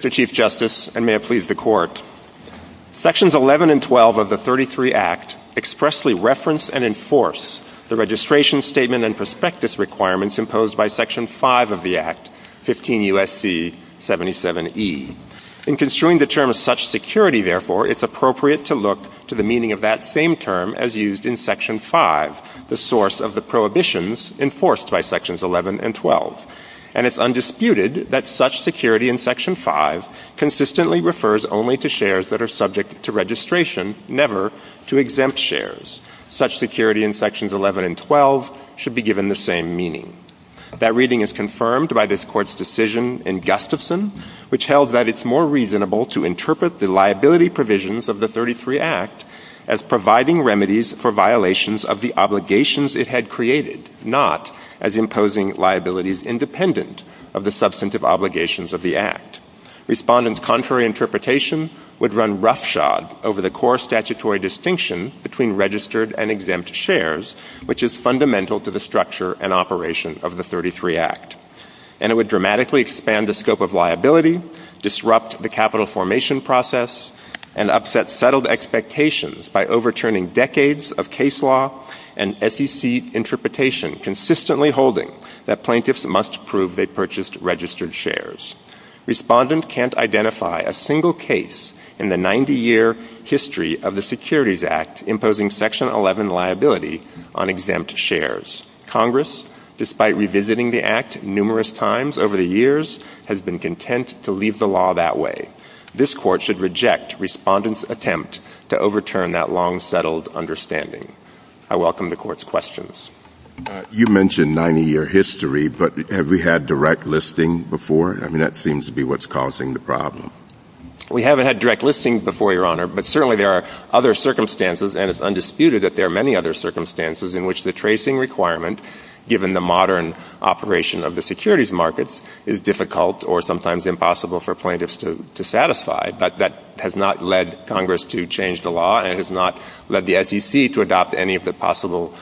The Chief Justice, and may it please the Court, Sections 11 and 12 of the 33 Act expressly reference and enforce the registration, statement, and prospectus requirements imposed by Section 5 of the Act, 15 U.S.C. 77e. In construing the term such security, therefore, it is appropriate to look to the meaning of that same term as used in Section 5, the source of the prohibitions enforced by Sections 11 and 12. And it's undisputed that such security in Section 5 consistently refers only to shares that are subject to registration, never to exempt shares. Such security in Sections 11 and 12 should be given the same meaning. That reading is confirmed by this Court's decision in Gustafson, which held that it's more reasonable to interpret the liability provisions of the 33 Act as providing remedies for violations of the obligations it had created, not as imposing liabilities independent of the substantive obligations of the Act. Respondents' contrary interpretation would run roughshod over the core statutory distinction between registered and exempt shares, which is fundamental to the structure and operation of the 33 Act. And it would dramatically expand the scope of liability, disrupt the capital formation process, and upset settled expectations by overturning decades of case law and SEC interpretation, consistently holding that plaintiffs must prove they purchased registered shares. Respondents can't identify a single case in the 90-year history of the Securities Act imposing Section 11 liability on exempt shares. Congress, despite revisiting the Act numerous times over the years, has been content to leave the law that way. This Court should reject Respondents' attempt to overturn that long-settled understanding. I welcome the Court's questions. You mentioned 90-year history, but have we had direct listing before? I mean, that seems to be what's causing the problem. We haven't had direct listing before, Your Honor, but certainly there are other circumstances, and it's undisputed that there are many other circumstances in which the tracing requirement, given the modern operation of the securities markets, is difficult or sometimes impossible for plaintiffs to satisfy. But that has not led Congress to change the law and has not led the SEC to adopt any of the possible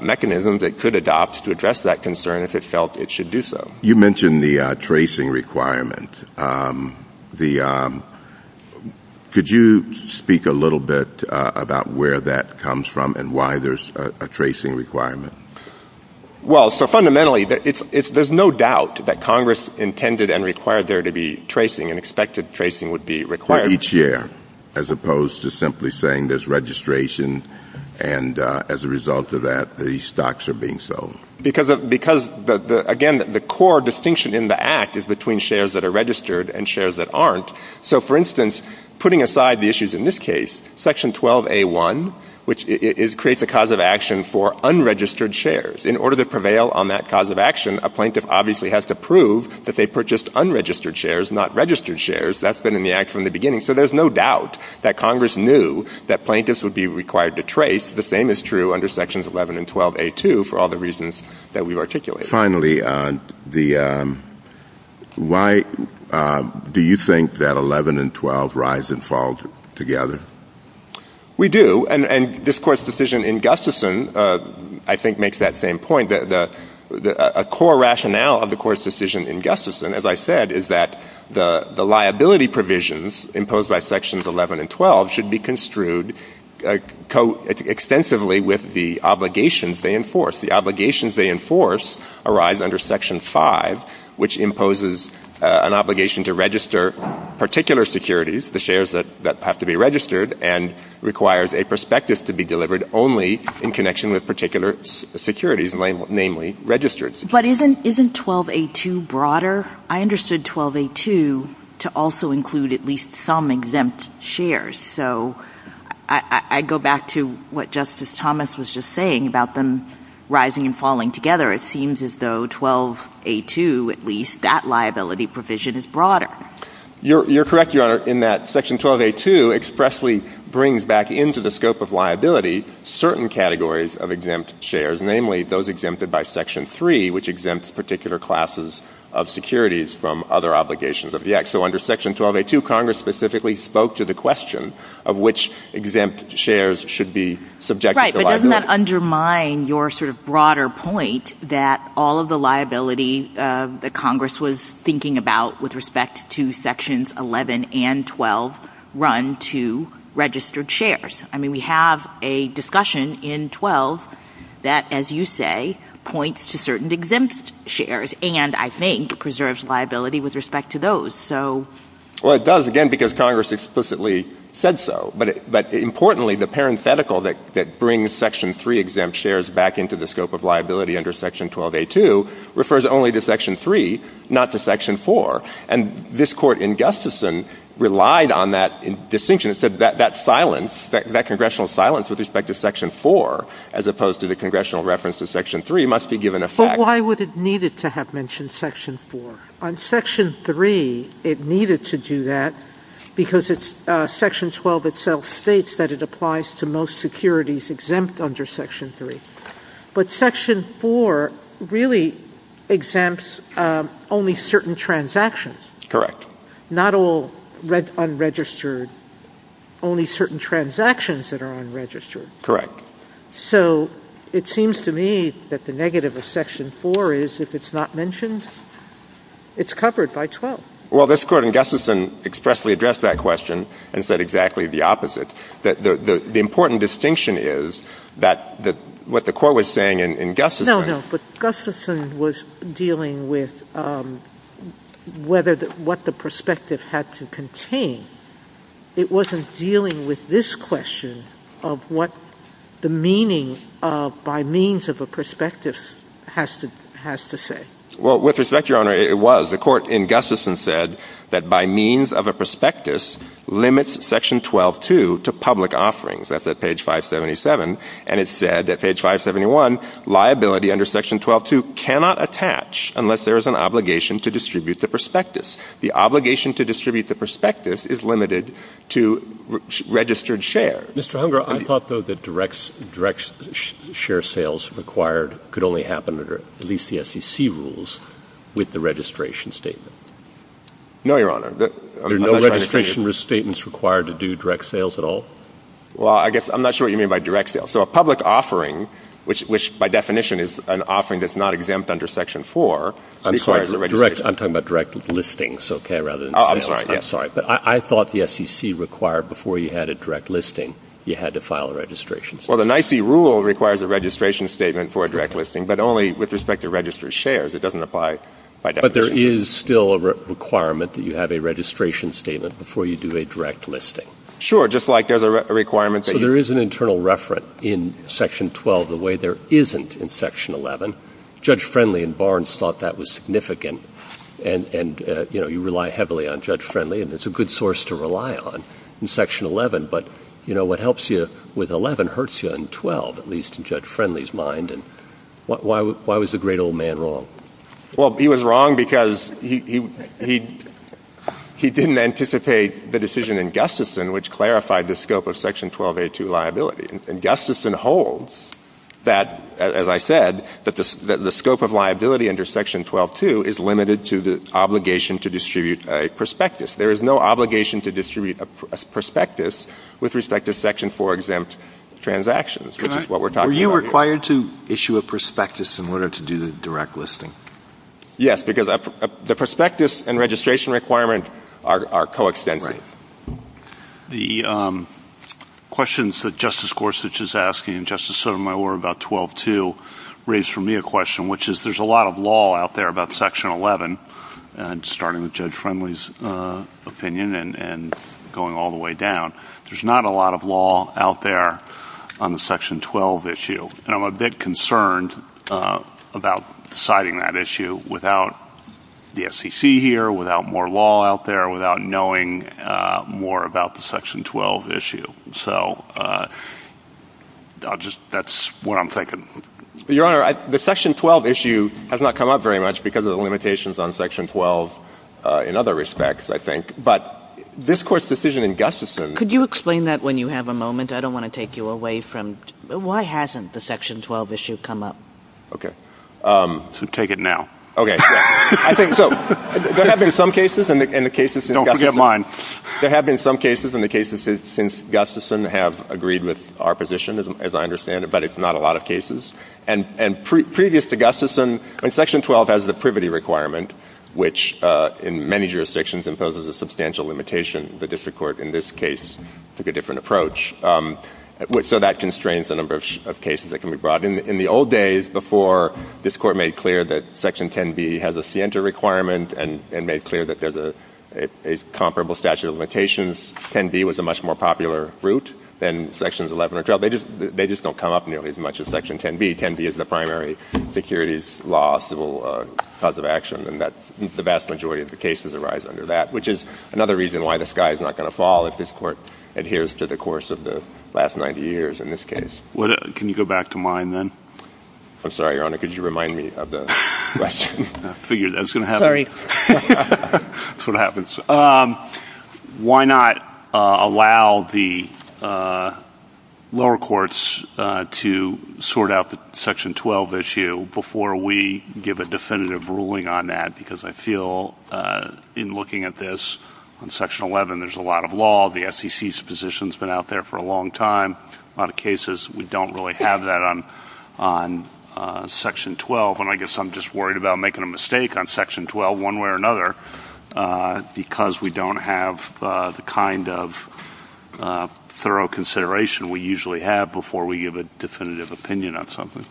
mechanisms it could adopt to address that concern if it felt it should do so. You mentioned the tracing requirement. Could you speak a little bit about where that comes from and why there's a tracing requirement? Well, so fundamentally, there's no doubt that Congress intended and required there to be tracing and expected tracing would be required. For each share, as opposed to simply saying there's registration, and as a result of that, the stocks are being sold. Because, again, the core distinction in the Act is between shares that are registered and shares that aren't. So, for instance, putting aside the issues in this case, Section 12A.1, which creates a cause of action for unregistered shares. In order to prevail on that cause of action, a plaintiff obviously has to prove that they purchased unregistered shares, not registered shares. That's been in the Act from the beginning. So there's no doubt that Congress knew that plaintiffs would be required to trace. The same is true under Sections 11 and 12A.2 for all the reasons that we've articulated. Finally, do you think that 11 and 12 rise and fall together? We do. And this Court's decision in Gustafson, I think, makes that same point. A core rationale of the Court's decision in Gustafson, as I said, is that the liability provisions imposed by Sections 11 and 12 should be construed extensively with the obligations they enforce. The obligations they enforce arise under Section 5, which imposes an obligation to register particular securities, the shares that have to be registered, and requires a prospectus to be delivered only in connection with particular securities, namely registered securities. But isn't 12A.2 broader? I understood 12A.2 to also include at least some exempt shares. So I go back to what Justice Thomas was just saying about them rising and falling together. It seems as though 12A.2, at least, that liability provision is broader. You're correct, Your Honor, in that Section 12A.2 expressly brings back into the scope of liability certain categories of exempt shares, namely those exempted by Section 3, which exempts particular classes of securities from other obligations of the Act. So under Section 12A.2, Congress specifically spoke to the question of which exempt shares should be subjected to liability. Right, but doesn't that undermine your sort of broader point that all of the liability that Congress was thinking about with respect to Sections 11 and 12 run to registered shares? I mean, we have a discussion in 12 that, as you say, points to certain exempt shares and, I think, preserves liability with respect to those. Well, it does, again, because Congress explicitly said so. But importantly, the parenthetical that brings Section 3 exempt shares back into the scope of liability under Section 12A.2 refers only to Section 3, not to Section 4. And this Court in Gustafson relied on that distinction. It said that silence, that congressional silence with respect to Section 4, as opposed to the congressional reference to Section 3, must be given effect. But why would it need it to have mentioned Section 4? On Section 3, it needed to do that because Section 12 itself states that it applies to most securities exempt under Section 3. But Section 4 really exempts only certain transactions. Correct. Not all unregistered, only certain transactions that are unregistered. Correct. So it seems to me that the negative of Section 4 is, if it's not mentioned, it's covered by 12. Well, this Court in Gustafson expressly addressed that question and said exactly the opposite. The important distinction is that what the Court was saying in Gustafson — No, no. But Gustafson was dealing with what the perspective had to contain. It wasn't dealing with this question of what the meaning of by means of a perspective has to say. Well, with respect, Your Honor, it was. The Court in Gustafson said that by means of a prospectus limits Section 12.2 to public offerings. That's at page 577. And it said that page 571, liability under Section 12.2 cannot attach unless there is an obligation to distribute the prospectus. The obligation to distribute the prospectus is limited to registered share. Mr. Hunger, I thought, though, that direct share sales required could only happen under at least the SEC rules with the registration statement. No, Your Honor. There are no registration statements required to do direct sales at all? Well, I guess I'm not sure what you mean by direct sales. So a public offering, which by definition is an offering that's not exempt under Section 4 — I'm sorry. I'm talking about direct listings, okay, rather than — I'm sorry. But I thought the SEC required before you had a direct listing, you had to file a registration statement. Well, the NIC rule requires a registration statement for a direct listing, but only with respect to registered shares. It doesn't apply by definition. But there is still a requirement that you have a registration statement before you do a direct listing. Sure, just like there's a requirement — So there is an internal referent in Section 12 the way there isn't in Section 11. Judge Friendly and Barnes thought that was significant. And, you know, you rely heavily on Judge Friendly, and it's a good source to rely on in Section 11. But, you know, what helps you with 11 hurts you in 12, at least in Judge Friendly's mind. And why was the great old man wrong? Well, he was wrong because he didn't anticipate the decision in Gustafson, which clarified the scope of Section 1282 liability. And Gustafson holds that, as I said, that the scope of liability under Section 12.2 is limited to the obligation to distribute a prospectus. There is no obligation to distribute a prospectus with respect to Section 4 exempt transactions, which is what we're talking about here. Were you required to issue a prospectus in order to do the direct listing? Yes, because the prospectus and registration requirement are coextensive. The questions that Justice Gorsuch is asking and Justice Sotomayor about 12.2 raised for me a question, which is there's a lot of law out there about Section 11, starting with Judge Friendly's opinion and going all the way down. There's not a lot of law out there on the Section 12 issue. And I'm a bit concerned about deciding that issue without the SEC here, without more law out there, without knowing more about the Section 12 issue. So that's what I'm thinking. Your Honor, the Section 12 issue has not come up very much because of the limitations on Section 12 in other respects, I think. But this Court's decision in Gustafson— Why hasn't the Section 12 issue come up? Okay. So take it now. Okay. I think so. There have been some cases, and the cases— Don't forget mine. There have been some cases in the cases since Gustafson have agreed with our position, as I understand it, but it's not a lot of cases. And previous to Gustafson, Section 12 has the privity requirement, which in many jurisdictions imposes a substantial limitation. The district court in this case took a different approach. So that constrains the number of cases that can be brought. In the old days, before this Court made clear that Section 10b has a scienter requirement and made clear that there's a comparable statute of limitations, 10b was a much more popular route than Sections 11 and 12. They just don't come up nearly as much as Section 10b. 10b is the primary securities law civil cause of action, and the vast majority of the cases arise under that, which is another reason why the sky is not going to fall if this Court adheres to the course of the last 90 years in this case. Can you go back to mine then? I'm sorry, Your Honor. Could you remind me of the question? I figured that was going to happen. Sorry. That's what happens. Why not allow the lower courts to sort out the Section 12 issue before we give a definitive ruling on that? Because I feel in looking at this, in Section 11 there's a lot of law. The SEC's position has been out there for a long time. A lot of cases we don't really have that on Section 12, and I guess I'm just worried about making a mistake on Section 12 one way or another because we don't have the kind of thorough consideration we usually have before we give a definitive opinion on something.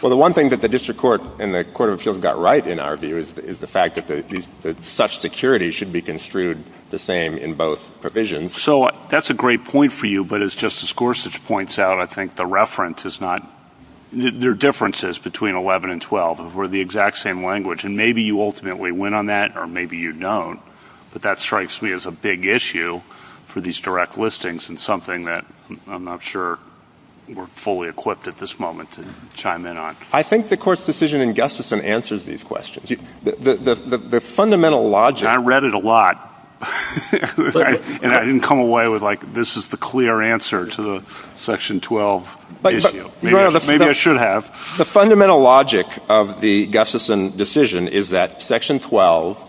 Well, the one thing that the District Court and the Court of Appeals got right, in our view, is the fact that such security should be construed the same in both provisions. So that's a great point for you, but as Justice Gorsuch points out, I think the reference is not – there are differences between 11 and 12. We're the exact same language, and maybe you ultimately win on that or maybe you don't, but that strikes me as a big issue for these direct listings and something that I'm not sure we're fully equipped at this moment to chime in on. I think the Court's decision in Gustafson answers these questions. The fundamental logic – I read it a lot, and I didn't come away with, like, this is the clear answer to the Section 12 issue. Maybe I should have. The fundamental logic of the Gustafson decision is that Section 12-2,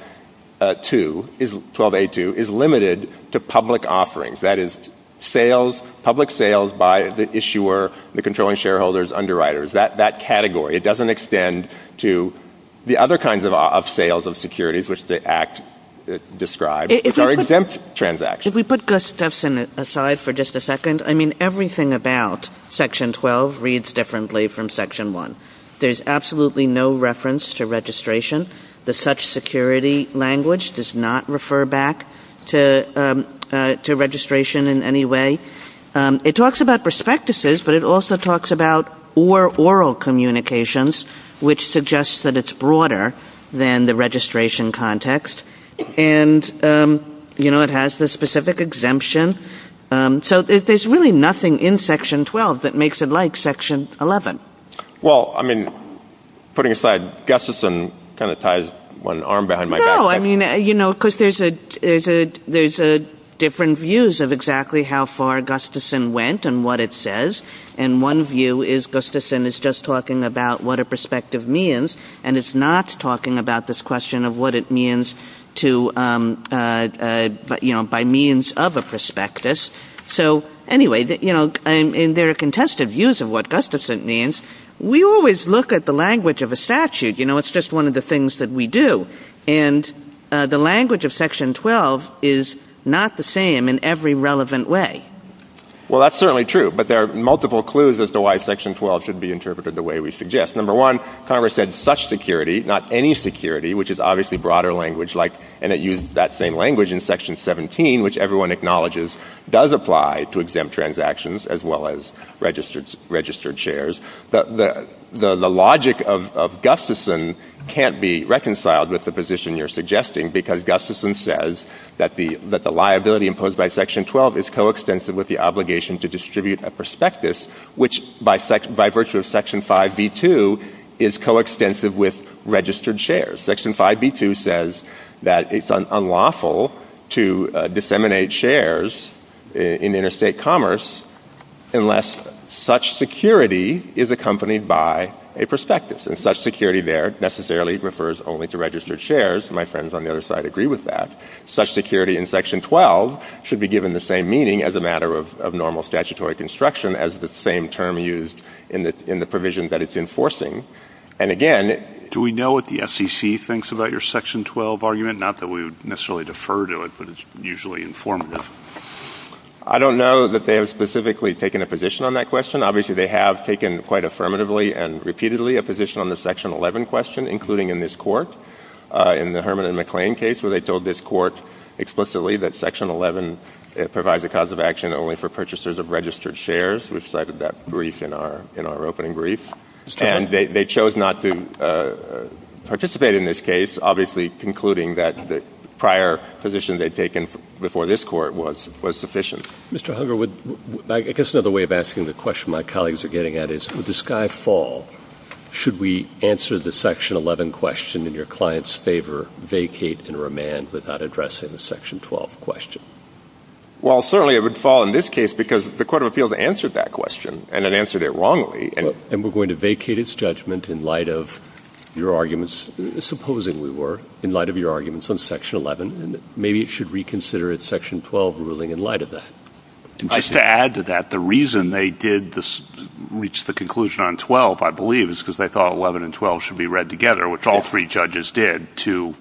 is limited to public offerings, that is, public sales by the issuer, the controlling shareholders, underwriters, that category. It doesn't extend to the other kinds of sales of securities, which the Act describes. It's our exempt transaction. If we put Gustafson aside for just a second, I mean, everything about Section 12 reads differently from Section 1. There's absolutely no reference to registration. The such security language does not refer back to registration in any way. It talks about prospectuses, but it also talks about or oral communications, which suggests that it's broader than the registration context. And, you know, it has the specific exemption. So there's really nothing in Section 12 that makes it like Section 11. Well, I mean, putting aside, Gustafson kind of ties one arm behind my back. No, I mean, you know, because there's different views of exactly how far Gustafson went and what it says, and one view is Gustafson is just talking about what a prospective means, and it's not talking about this question of what it means to, you know, by means of a prospectus. So anyway, you know, in their contested views of what Gustafson means, we always look at the language of a statute. You know, it's just one of the things that we do. And the language of Section 12 is not the same in every relevant way. Well, that's certainly true, but there are multiple clues as to why Section 12 should be interpreted the way we suggest. Number one, Congress said such security, not any security, which is obviously broader language, and it used that same language in Section 17, which everyone acknowledges does apply to exempt transactions as well as registered shares. The logic of Gustafson can't be reconciled with the position you're suggesting because Gustafson says that the liability imposed by Section 12 is coextensive with the obligation to distribute a prospectus, which by virtue of Section 5B2 is coextensive with registered shares. Section 5B2 says that it's unlawful to disseminate shares in interstate commerce unless such security is accompanied by a prospectus. And such security there necessarily refers only to registered shares. My friends on the other side agree with that. Such security in Section 12 should be given the same meaning as a matter of normal statutory construction as the same term used in the provision that it's enforcing. Do we know what the FCC thinks about your Section 12 argument? Not that we would necessarily defer to it, but it's usually informative. I don't know that they have specifically taken a position on that question. Obviously they have taken quite affirmatively and repeatedly a position on the Section 11 question, including in this court, in the Herman and McClain case, where they told this court explicitly that Section 11 provides a cause of action only for purchasers of registered shares. We've cited that brief in our opening brief. And they chose not to participate in this case, obviously concluding that the prior position they'd taken before this court was sufficient. Mr. Hugger, I guess another way of asking the question my colleagues are getting at is, would the sky fall should we answer the Section 11 question in your client's favor, vacate and remand without addressing the Section 12 question? Well, certainly it would fall in this case because the Court of Appeals answered that question, and it answered it wrongly. And we're going to vacate its judgment in light of your arguments, supposing we were, in light of your arguments on Section 11, and maybe it should reconsider its Section 12 ruling in light of that. Just to add to that, the reason they did reach the conclusion on 12, I believe, is because they thought 11 and 12 should be read together, which all three judges did, two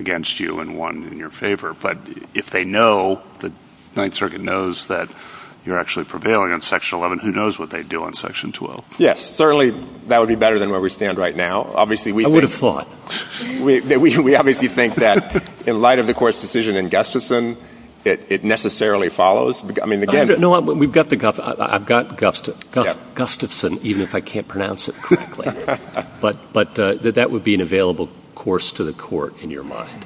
against you and one in your favor. But if they know, the Ninth Circuit knows that you're actually prevailing on Section 11, who knows what they'd do on Section 12? Yes, certainly that would be better than where we stand right now. I would have thought. We obviously think that in light of the Court's decision in Gustafson, it necessarily follows. No, we've got the Gustafson. I've got Gustafson, even if I can't pronounce it correctly. But that would be an available course to the Court in your mind.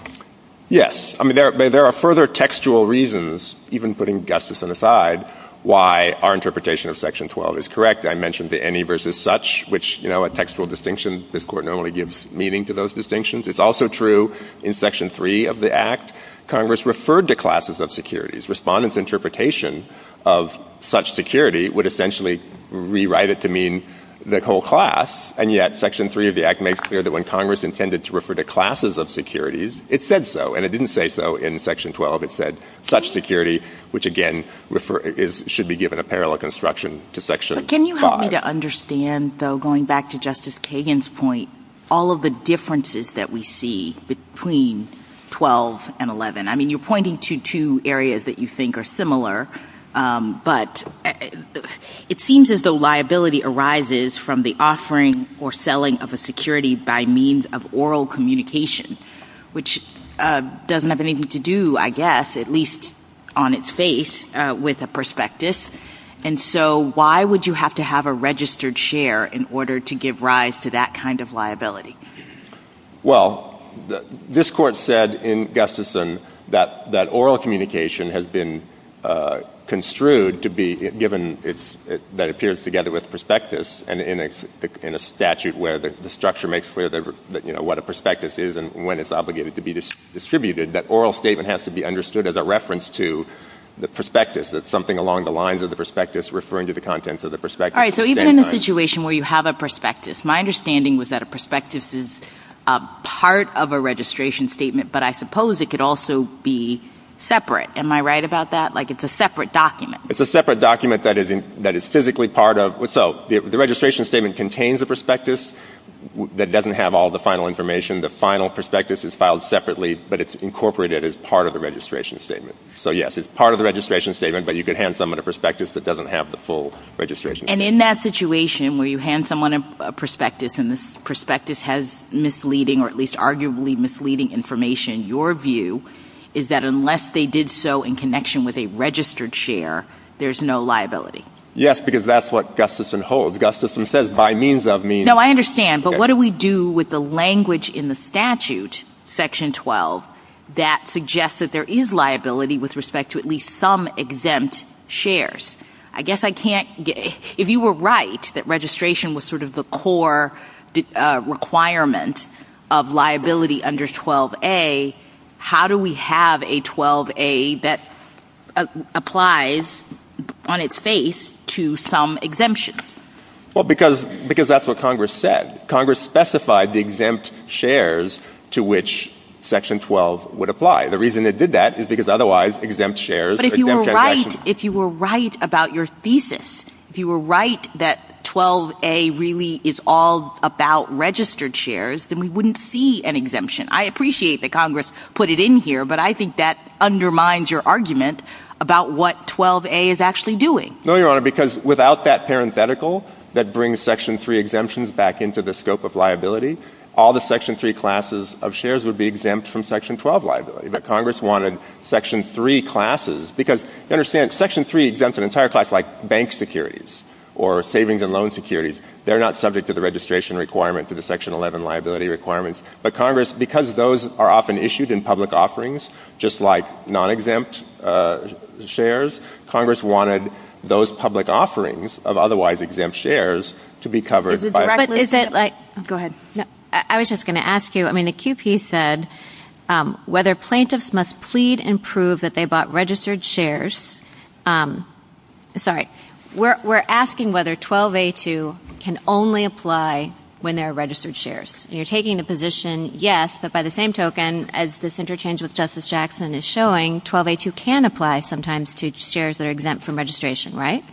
Yes. I mean, there are further textual reasons, even putting Gustafson aside, why our interpretation of Section 12 is correct. I mentioned the any versus such, which, you know, a textual distinction, this Court not only gives meaning to those distinctions, it's also true in Section 3 of the Act, Congress referred to classes of securities. Respondents' interpretation of such security would essentially rewrite it to mean the whole class, and yet Section 3 of the Act makes clear that when Congress intended to refer to classes of securities, it said so, and it didn't say so in Section 12. It said such security, which, again, should be given a parallel construction to Section 5. Can you help me to understand, though, going back to Justice Kagan's point, all of the differences that we see between 12 and 11? I mean, you're pointing to two areas that you think are similar, but it seems as though liability arises from the offering or selling of a security by means of oral communication, which doesn't have anything to do, I guess, at least on its face, with a prospectus. And so why would you have to have a registered share in order to give rise to that kind of liability? Well, this Court said in Gustafson that oral communication has been construed to be, given that it appears together with prospectus and in a statute where the structure makes clear what a prospectus is and when it's obligated to be distributed, that oral statement has to be understood as a reference to the prospectus, that something along the lines of the prospectus referring to the contents of the prospectus. All right, so even in a situation where you have a prospectus, my understanding was that a prospectus is part of a registration statement, but I suppose it could also be separate. Am I right about that, like it's a separate document? It's a separate document that is physically part of – so the registration statement contains a prospectus that doesn't have all the final information, the final prospectus is filed separately, but it's incorporated as part of the registration statement. So yes, it's part of the registration statement, but you could hand someone a prospectus that doesn't have the full registration statement. And in that situation where you hand someone a prospectus and the prospectus has misleading or at least arguably misleading information, your view is that unless they did so in connection with a registered share, there's no liability. Yes, because that's what Gustafson holds. Gustafson says by means of means – No, I understand, but what do we do with the language in the statute, Section 12, that suggests that there is liability with respect to at least some exempt shares? I guess I can't – if you were right that registration was sort of the core requirement of liability under 12a, how do we have a 12a that applies on its face to some exemptions? Well, because that's what Congress said. Congress specified the exempt shares to which Section 12 would apply. The reason it did that is because otherwise exempt shares – But if you were right, if you were right about your thesis, if you were right that 12a really is all about registered shares, then we wouldn't see an exemption. I appreciate that Congress put it in here, but I think that undermines your argument about what 12a is actually doing. No, Your Honor, because without that parenthetical that brings Section 3 exemptions back into the scope of liability, all the Section 3 classes of shares would be exempt from Section 12 liability. But Congress wanted Section 3 classes – because you understand, Section 3 exempts an entire class like bank securities or savings and loan securities. They're not subject to the registration requirement, to the Section 11 liability requirements. But Congress, because those are often issued in public offerings, just like non-exempt shares, Congress wanted those public offerings of otherwise exempt shares to be covered by – But is it like – go ahead. I was just going to ask you, I mean, the QP said, whether plaintiffs must plead and prove that they bought registered shares – sorry. We're asking whether 12a2 can only apply when there are registered shares. You're taking a position, yes, but by the same token, as this interchange with Justice Jackson is showing, 12a2 can apply sometimes to shares that are exempt from registration, right?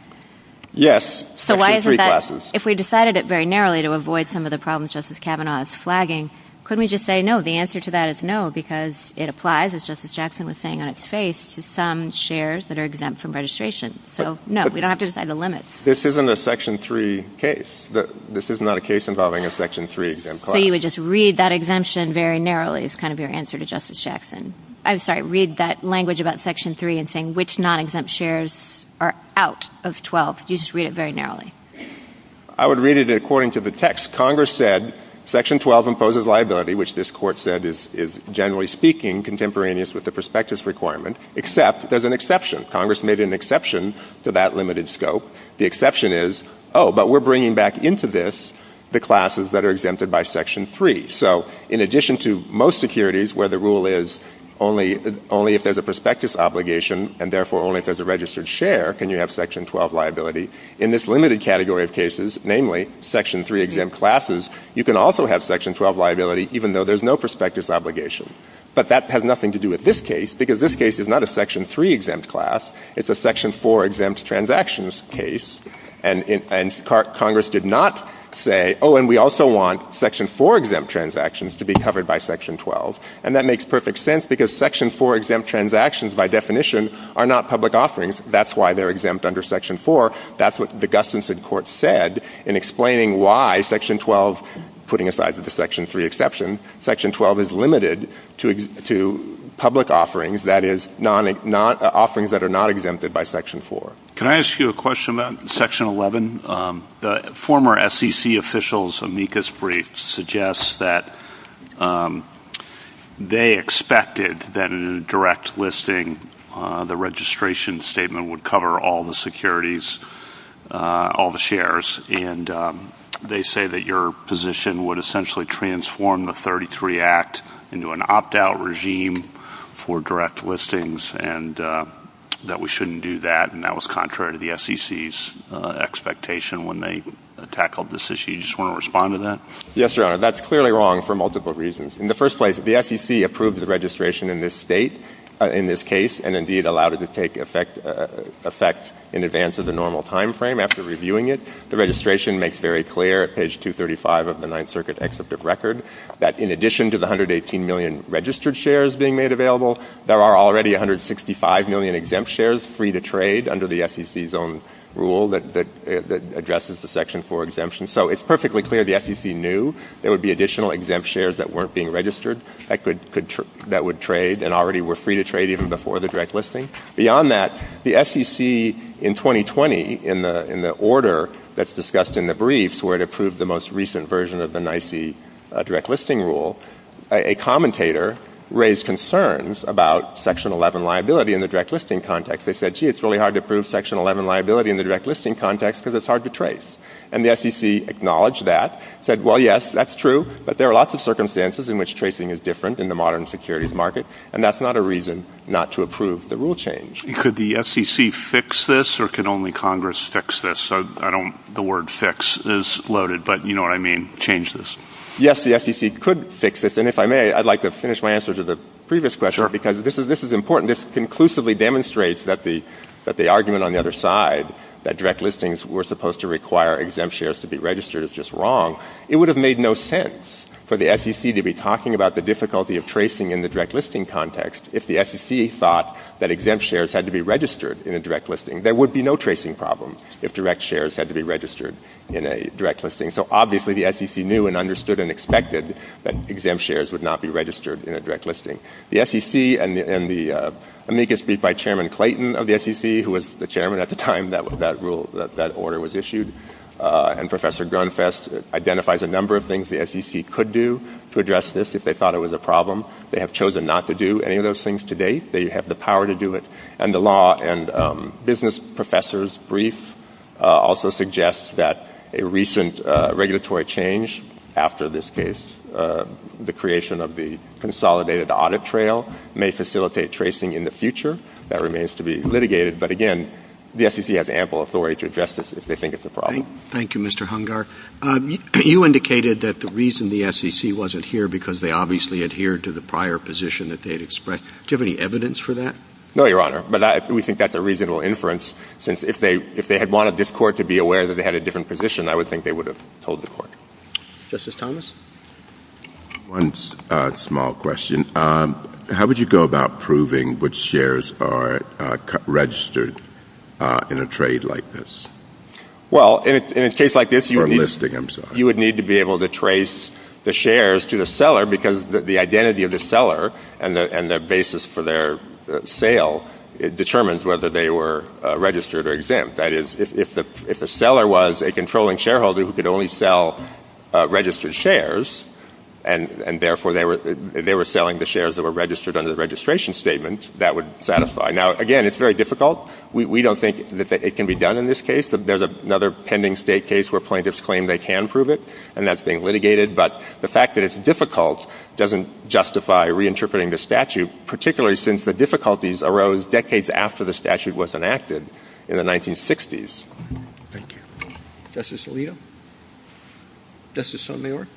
Yes, Section 3 classes. So why is it that if we decided it very narrowly to avoid some of the problems Justice Kavanaugh is flagging, couldn't we just say no? The answer to that is no, because it applies, as Justice Jackson was saying on its face, to some shares that are exempt from registration. So, no, we don't have to decide the limits. This isn't a Section 3 case. This is not a case involving a Section 3 exempt class. So you would just read that exemption very narrowly is kind of your answer to Justice Jackson. I'm sorry, read that language about Section 3 and saying which non-exempt shares are out of 12. You just read it very narrowly. I would read it according to the text. Congress said Section 12 imposes liability, which this court said is, generally speaking, contemporaneous with the prospectus requirement, except there's an exception. Congress made an exception to that limited scope. The exception is, oh, but we're bringing back into this the classes that are exempted by Section 3. So in addition to most securities where the rule is only if there's a prospectus obligation and therefore only if there's a registered share can you have Section 12 liability, in this limited category of cases, namely Section 3 exempt classes, you can also have Section 12 liability even though there's no prospectus obligation. But that has nothing to do with this case because this case is not a Section 3 exempt class. It's a Section 4 exempt transactions case, and Congress did not say, oh, and we also want Section 4 exempt transactions to be covered by Section 12. And that makes perfect sense because Section 4 exempt transactions, by definition, are not public offerings. That's why they're exempt under Section 4. That's what D'Augustine said in court said in explaining why Section 12, putting aside the Section 3 exception, Section 12 is limited to public offerings, that is, offerings that are not exempted by Section 4. Can I ask you a question about Section 11? The former SEC official's amicus brief suggests that they expected that in a direct listing, the registration statement would cover all the securities, all the shares, and they say that your position would essentially transform the 33 Act into an opt-out regime for direct listings and that we shouldn't do that, and that was contrary to the SEC's expectation when they tackled this issue. Do you just want to respond to that? Yes, Your Honor. That's clearly wrong for multiple reasons. In the first place, the SEC approved the registration in this state, in this case, and indeed allowed it to take effect in advance of the normal time frame after reviewing it. The registration makes very clear at page 235 of the Ninth Circuit Exemptive Record that in addition to the 118 million registered shares being made available, there are already 165 million exempt shares free to trade under the SEC's own rule that addresses the Section 4 exemption. So it's perfectly clear the SEC knew there would be additional exempt shares that weren't being registered that would trade and already were free to trade even before the direct listing. Beyond that, the SEC in 2020, in the order that's discussed in the briefs, where it approved the most recent version of the NYSE direct listing rule, a commentator raised concerns about Section 11 liability in the direct listing context. They said, gee, it's really hard to prove Section 11 liability in the direct listing context because it's hard to trace. And the SEC acknowledged that, said, well, yes, that's true, but there are lots of circumstances in which tracing is different in the modern securities market, and that's not a reason not to approve the rule change. Could the SEC fix this, or can only Congress fix this? The word fix is loaded, but you know what I mean, change this. Yes, the SEC could fix this. And if I may, I'd like to finish my answer to the previous question, because this is important. This conclusively demonstrates that the argument on the other side, that direct listings were supposed to require exempt shares to be registered, is just wrong. It would have made no sense for the SEC to be talking about the difficulty of tracing in the direct listing context if the SEC thought that exempt shares had to be registered in a direct listing. There would be no tracing problem if direct shares had to be registered in a direct listing. So obviously the SEC knew and understood and expected that exempt shares would not be registered in a direct listing. The SEC, and let me just speak by Chairman Clayton of the SEC, who was the chairman at the time that that order was issued, and Professor Grunfest identifies a number of things the SEC could do to address this if they thought it was a problem. They have chosen not to do any of those things to date. They have the power to do it. And the law and business professor's brief also suggests that a recent regulatory change after this case, the creation of the consolidated audit trail, may facilitate tracing in the future. That remains to be litigated. But again, the SEC has ample authority to address this if they think it's a problem. Thank you, Mr. Hungar. You indicated that the reason the SEC wasn't here, because they obviously adhered to the prior position that they had expressed. Do you have any evidence for that? No, Your Honor. But we think that's a reasonable inference, since if they had wanted this court to be aware that they had a different position, I would think they would have told the court. Justice Thomas? One small question. How would you go about proving which shares are registered in a trade like this? Well, in a case like this, you would need to be able to trace the shares to the seller, because the identity of the seller and the basis for their sale determines whether they were registered or exempt. That is, if the seller was a controlling shareholder who could only sell registered shares and, therefore, they were selling the shares that were registered under the registration statement, that would satisfy. Now, again, it's very difficult. We don't think that it can be done in this case. There's another pending state case where plaintiffs claim they can prove it, and that's being litigated. But the fact that it's difficult doesn't justify reinterpreting the statute, particularly since the difficulties arose decades after the statute was enacted in the 1960s. Thank you. Justice Alito? Justice Sotomayor?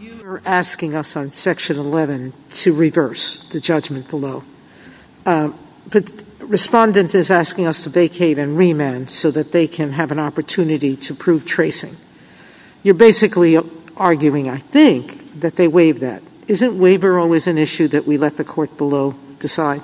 You are asking us on Section 11 to reverse the judgment below. The Respondent is asking us to vacate and remand so that they can have an opportunity to prove tracing. You're basically arguing, I think, that they waived that. Isn't waiver always an issue that we let the court below decide?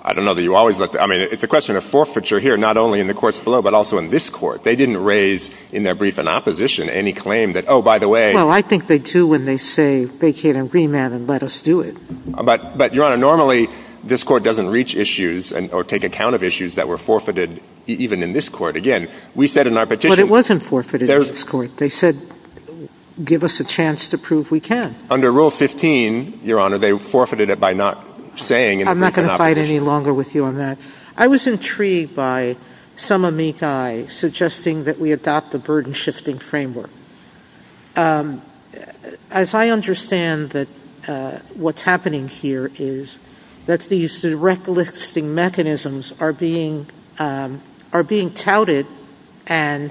I don't know that you always let the court decide. I mean, it's a question of forfeiture here, not only in the courts below, but also in this court. They didn't raise in their brief in opposition any claim that, oh, by the way. Well, I think they do when they say vacate and remand and let us do it. But, Your Honor, normally this court doesn't reach issues or take account of issues that were forfeited even in this court. But it wasn't forfeited in this court. They said give us a chance to prove we can. Under Rule 15, Your Honor, they forfeited it by not saying it. I'm not going to fight any longer with you on that. I was intrigued by some amici suggesting that we adopt the burden-shifting framework. As I understand what's happening here is that these direct listing mechanisms are being touted and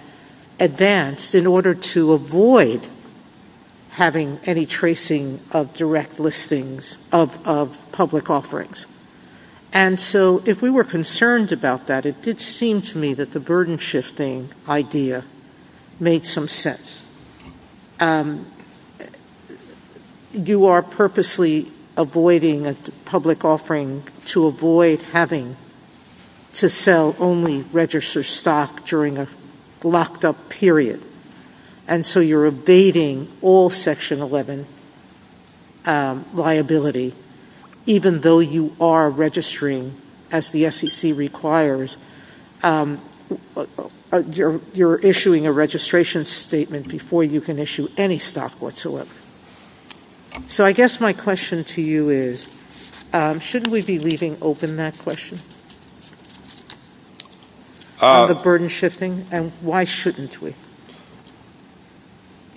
advanced in order to avoid having any tracing of direct listings of public offerings. And so if we were concerned about that, it did seem to me that the burden-shifting idea made some sense. You are purposely avoiding a public offering to avoid having to sell only registered stock during a locked-up period. And so you're abating all Section 11 liability, even though you are registering as the SEC requires. You're issuing a registration statement before you can issue any stock whatsoever. So I guess my question to you is, shouldn't we be leaving open that question of the burden-shifting, and why shouldn't we?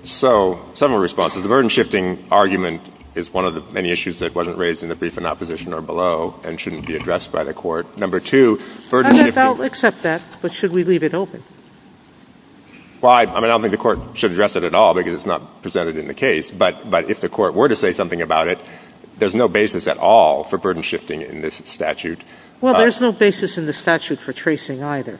So, several responses. The burden-shifting argument is one of the many issues that wasn't raised in the brief in opposition or below and shouldn't be addressed by the court. I don't accept that, but should we leave it open? Well, I don't think the court should address it at all because it's not presented in the case. But if the court were to say something about it, there's no basis at all for burden-shifting in this statute. Well, there's no basis in the statute for tracing either.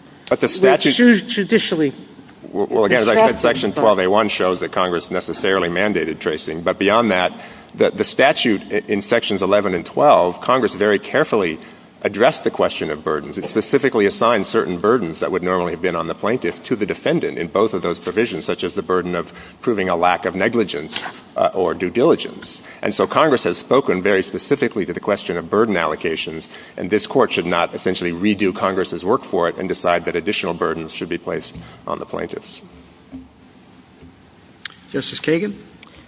Well, again, as I said, Section 12A1 shows that Congress necessarily mandated tracing. But beyond that, the statute in Sections 11 and 12, Congress very carefully addressed the question of burdens. It specifically assigned certain burdens that would normally have been on the plaintiff to the defendant in both of those provisions, such as the burden of proving a lack of negligence or due diligence. And so Congress has spoken very specifically to the question of burden allocations, and this court should not essentially redo Congress's work for it and decide that additional burdens should be placed on the plaintiffs. Justice Kagan?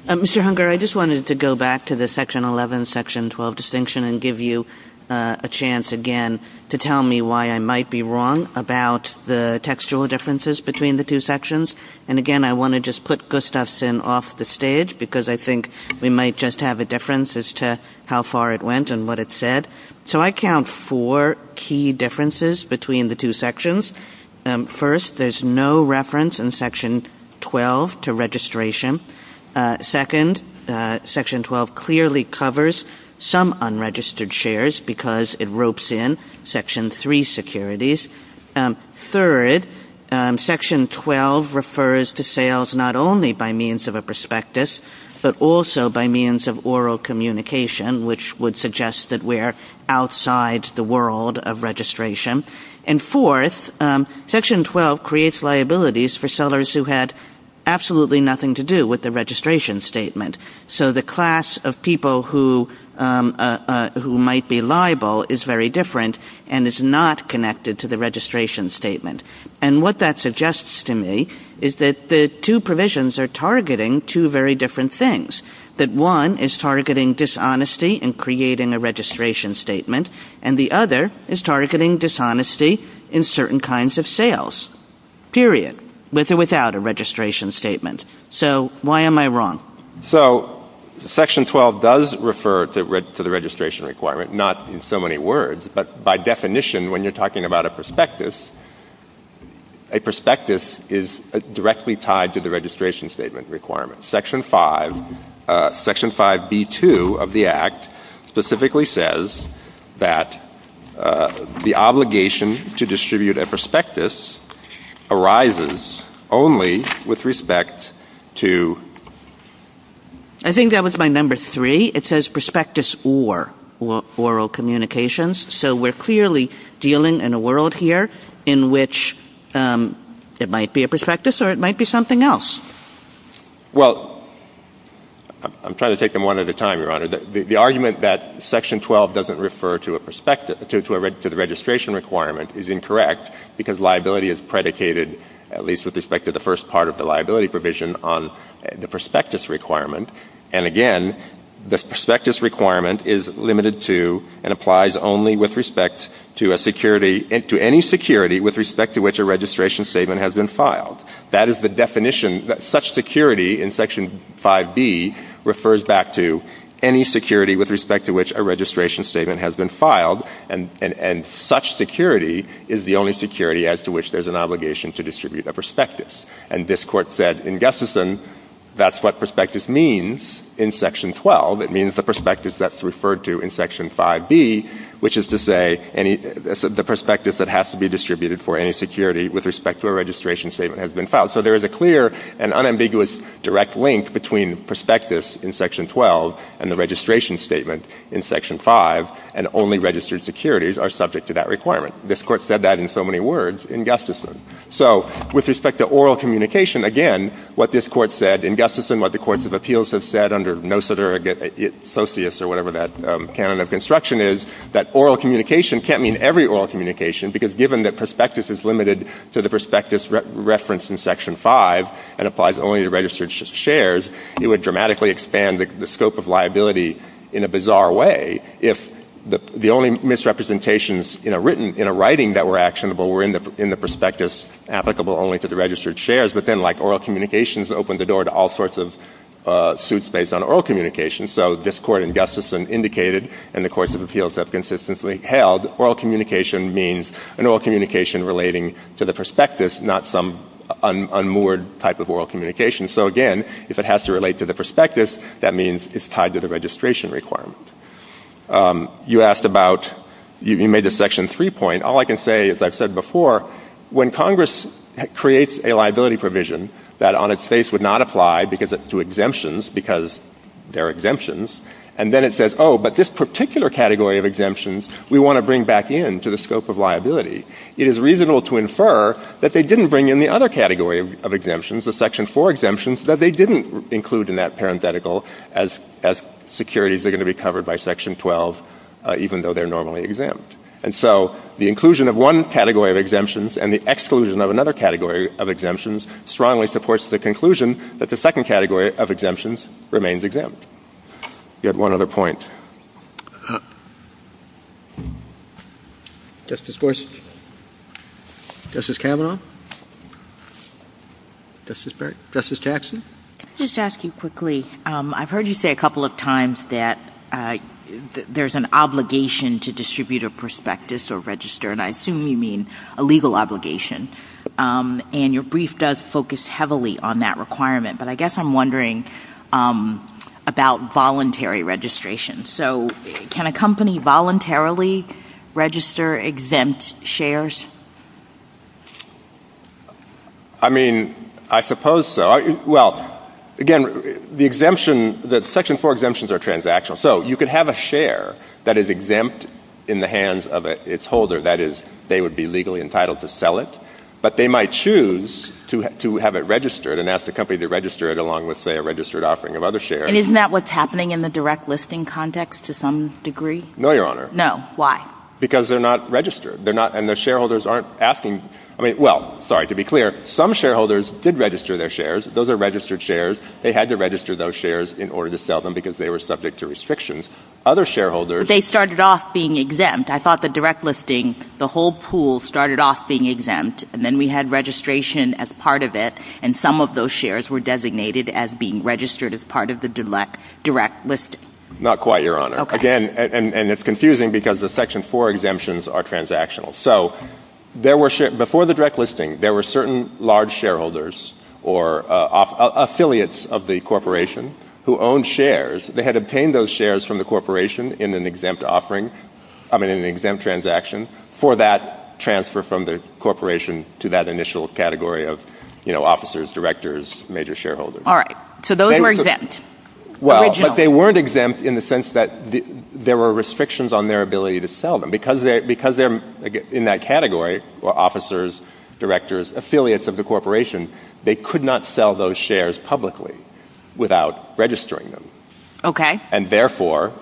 Mr. Hunger, I just wanted to go back to the Section 11, Section 12 distinction and give you a chance again to tell me why I might be wrong about the textual differences between the two sections. And again, I want to just put Gustafson off the stage because I think we might just have a difference as to how far it went and what it said. So I count four key differences between the two sections. First, there's no reference in Section 12 to registration. Second, Section 12 clearly covers some unregistered shares because it ropes in Section 3 securities. Third, Section 12 refers to sales not only by means of a prospectus, but also by means of oral communication, which would suggest that we're outside the world of registration. And fourth, Section 12 creates liabilities for sellers who had absolutely nothing to do with the registration statement. So the class of people who might be liable is very different and is not connected to the registration statement. And what that suggests to me is that the two provisions are targeting two very different things, that one is targeting dishonesty in creating a registration statement, and the other is targeting dishonesty in certain kinds of sales, period, with or without a registration statement. So why am I wrong? So Section 12 does refer to the registration requirement, not in so many words, but by definition when you're talking about a prospectus, a prospectus is directly tied to the registration statement requirement. Section 5, Section 5B2 of the Act specifically says that the obligation to distribute a prospectus arises only with respect to... I think that was my number three. It says prospectus or oral communications, so we're clearly dealing in a world here in which it might be a prospectus or it might be something else. Well, I'm trying to take them one at a time, Your Honor. The argument that Section 12 doesn't refer to the registration requirement is incorrect because liability is predicated, at least with respect to the first part of the liability provision, on the prospectus requirement. And again, the prospectus requirement is limited to and applies only with respect to any security with respect to which a registration statement has been filed. That is the definition. Such security in Section 5B refers back to any security with respect to which a registration statement has been filed, and such security is the only security as to which there's an obligation to distribute a prospectus. And this Court said in Gustafson that's what prospectus means in Section 12. It means the prospectus that's referred to in Section 5B, which is to say the prospectus that has to be distributed for any security with respect to a registration statement has been filed. So there is a clear and unambiguous direct link between prospectus in Section 12 and the registration statement in Section 5, and only registered securities are subject to that requirement. This Court said that in so many words in Gustafson. So with respect to oral communication, again, what this Court said in Gustafson, what the Courts of Appeals have said under NOSA or SOCIUS or whatever that canon of construction is, that oral communication can't mean every oral communication, because given that prospectus is limited to the prospectus referenced in Section 5 and applies only to registered shares, it would dramatically expand the scope of liability in a bizarre way if the only misrepresentations in a writing that were actionable were in the prospectus applicable only to the registered shares, but then like oral communications open the door to all sorts of suits based on oral communication. So this Court in Gustafson indicated in the Courts of Appeals that consistently held oral communication means an oral communication relating to the prospectus, not some unmoored type of oral communication. So again, if it has to relate to the prospectus, that means it's tied to the registration requirement. You asked about, you made the Section 3 point. All I can say is I've said before, when Congress creates a liability provision that on its face would not apply to exemptions because they're exemptions, and then it says, oh, but this particular category of exemptions we want to bring back in to the scope of liability, it is reasonable to infer that they didn't bring in the other category of exemptions, the Section 4 exemptions, that they didn't include in that parenthetical as securities are going to be covered by Section 12 even though they're normally exempt. And so the inclusion of one category of exemptions and the exclusion of another category of exemptions strongly supports the conclusion that the second category of exemptions remains exempt. You had one other point. Justice Gorsuch? Justice Cameron? Justice Jackson? Just to ask you quickly, I've heard you say a couple of times that there's an obligation to distribute a prospectus or register, and I assume you mean a legal obligation. And your brief does focus heavily on that requirement, but I guess I'm wondering about voluntary registration. So can a company voluntarily register exempt shares? I mean, I suppose so. Well, again, the Section 4 exemptions are transactional. So you could have a share that is exempt in the hands of its holder, that is, they would be legally entitled to sell it, but they might choose to have it registered and ask the company to register it along with, say, a registered offering of other shares. And isn't that what's happening in the direct listing context to some degree? No, Your Honor. No. Why? Because they're not registered, and the shareholders aren't asking. Well, sorry, to be clear, some shareholders did register their shares. Those are registered shares. They had to register those shares in order to sell them because they were subject to restrictions. Other shareholders. But they started off being exempt. I thought the direct listing, the whole pool started off being exempt, and then we had registration as part of it, and some of those shares were designated as being registered as part of the direct listing. Not quite, Your Honor. Okay. Again, and it's confusing because the Section 4 exemptions are transactional. So before the direct listing, there were certain large shareholders or affiliates of the corporation who owned shares. They had obtained those shares from the corporation in an exempt transaction for that transfer from the corporation to that initial category of, you know, officers, directors, major shareholders. All right. So those were exempt. Well, but they weren't exempt in the sense that there were restrictions on their ability to sell them because in that category, officers, directors, affiliates of the corporation, they could not sell those shares publicly without registering them. Okay. And therefore,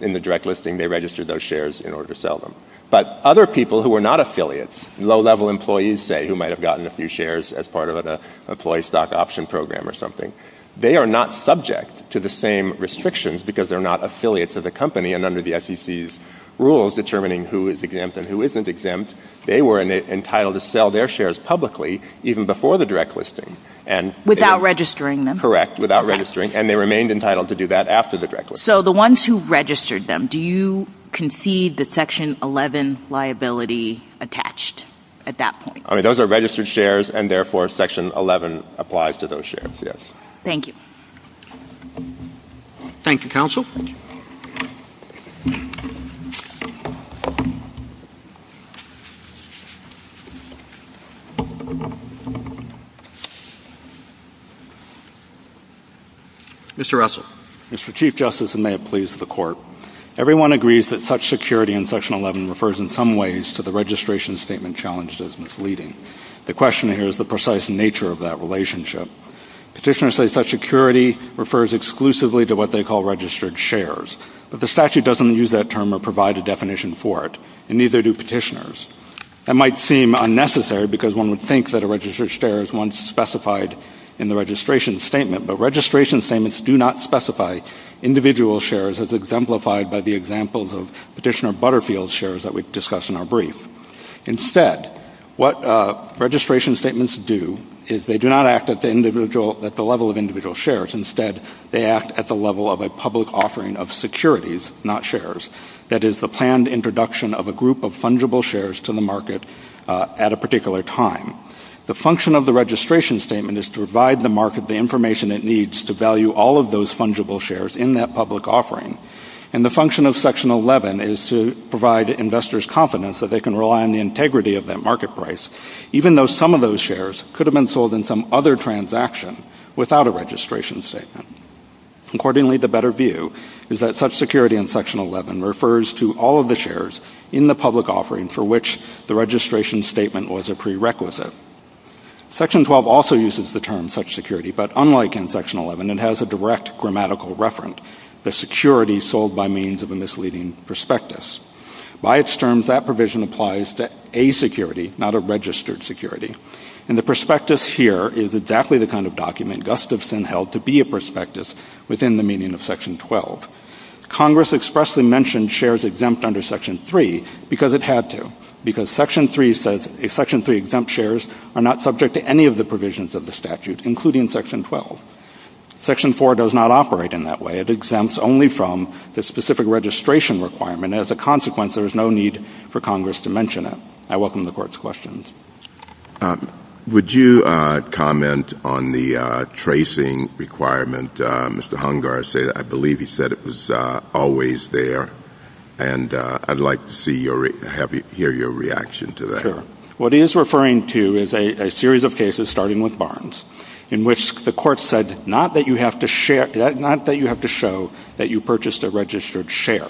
in the direct listing, they registered those shares in order to sell them. But other people who were not affiliates, low-level employees, say, who might have gotten a few shares as part of the employee stock option program or something, they are not subject to the same restrictions because they're not affiliates of the company. And under the SEC's rules determining who is exempt and who isn't exempt, they were entitled to sell their shares publicly even before the direct listing. Without registering them. Correct, without registering. And they remained entitled to do that after the direct listing. So the ones who registered them, do you concede the Section 11 liability attached at that point? All right. Those are registered shares, and therefore, Section 11 applies to those shares, yes. Thank you. Thank you, Counsel. Mr. Russell. Mr. Chief Justice, and may it please the Court, everyone agrees that such security in Section 11 refers in some ways to the registration statement challenges misleading. The question here is the precise nature of that relationship. Petitioners say such security refers exclusively to what they call registered shares. But the statute doesn't use that term or provide a definition for it, and neither do petitioners. That might seem unnecessary because one would think that a registered share is one specified in the registration statement, but registration statements do not specify individual shares as exemplified by the examples of Petitioner Butterfield's shares that we discussed in our brief. Instead, what registration statements do is they do not act at the level of individual shares. Instead, they act at the level of a public offering of securities, not shares. That is the planned introduction of a group of fungible shares to the market at a particular time. The function of the registration statement is to provide the market the information it needs to value all of those fungible shares in that public offering. And the function of Section 11 is to provide investors confidence that they can rely on the integrity of that market price, even though some of those shares could have been sold in some other transaction without a registration statement. Accordingly, the better view is that such security in Section 11 refers to all of the shares in the public offering for which the registration statement was a prerequisite. Section 12 also uses the term such security, but unlike in Section 11, it has a direct grammatical referent, the security sold by means of a misleading prospectus. By its terms, that provision applies to a security, not a registered security. And the prospectus here is exactly the kind of document Gustafson held to be a prospectus within the meaning of Section 12. Congress expressly mentioned shares exempt under Section 3 because it had to, because Section 3 exempt shares are not subject to any of the provisions of the statute, including Section 12. Section 4 does not operate in that way. It exempts only from the specific registration requirement. As a consequence, there is no need for Congress to mention it. I welcome the Court's questions. Would you comment on the tracing requirement? Mr. Hungar, I believe he said it was always there. And I'd like to hear your reaction to that. Sure. What he is referring to is a series of cases, starting with Barnes, in which the Court said not that you have to share, not that you have to show that you purchased a registered share,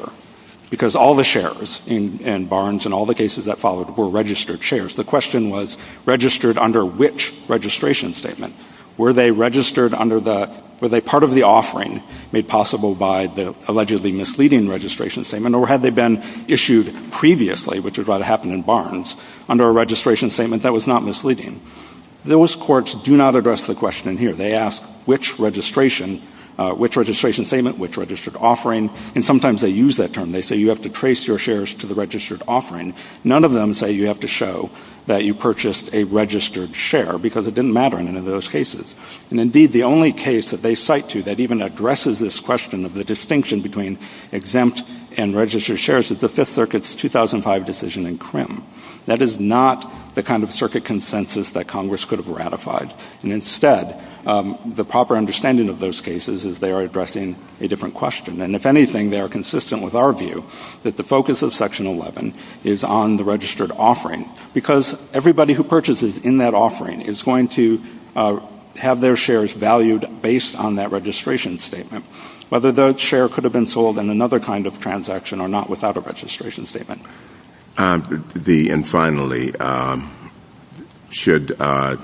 because all the shares in Barnes and all the cases that followed were registered shares. The question was registered under which registration statement? Were they registered under the, were they part of the offering made possible by the allegedly misleading registration statement, or had they been issued previously, which is what happened in Barnes, under a registration statement that was not misleading? Those courts do not address the question here. They ask which registration, which registration statement, which registered offering, and sometimes they use that term. They say you have to trace your shares to the registered offering. None of them say you have to show that you purchased a registered share, because it didn't matter in any of those cases. And, indeed, the only case that they cite to that even addresses this question of the distinction between exempt and registered shares is the Fifth Circuit's 2005 decision in Crimm. That is not the kind of circuit consensus that Congress could have ratified. And, instead, the proper understanding of those cases is they are addressing a different question. And, if anything, they are consistent with our view that the focus of Section 11 is on the registered offering, because everybody who purchases in that offering is going to have their shares valued based on that registration statement, whether that share could have been sold in another kind of transaction or not without a registration statement. And, finally, should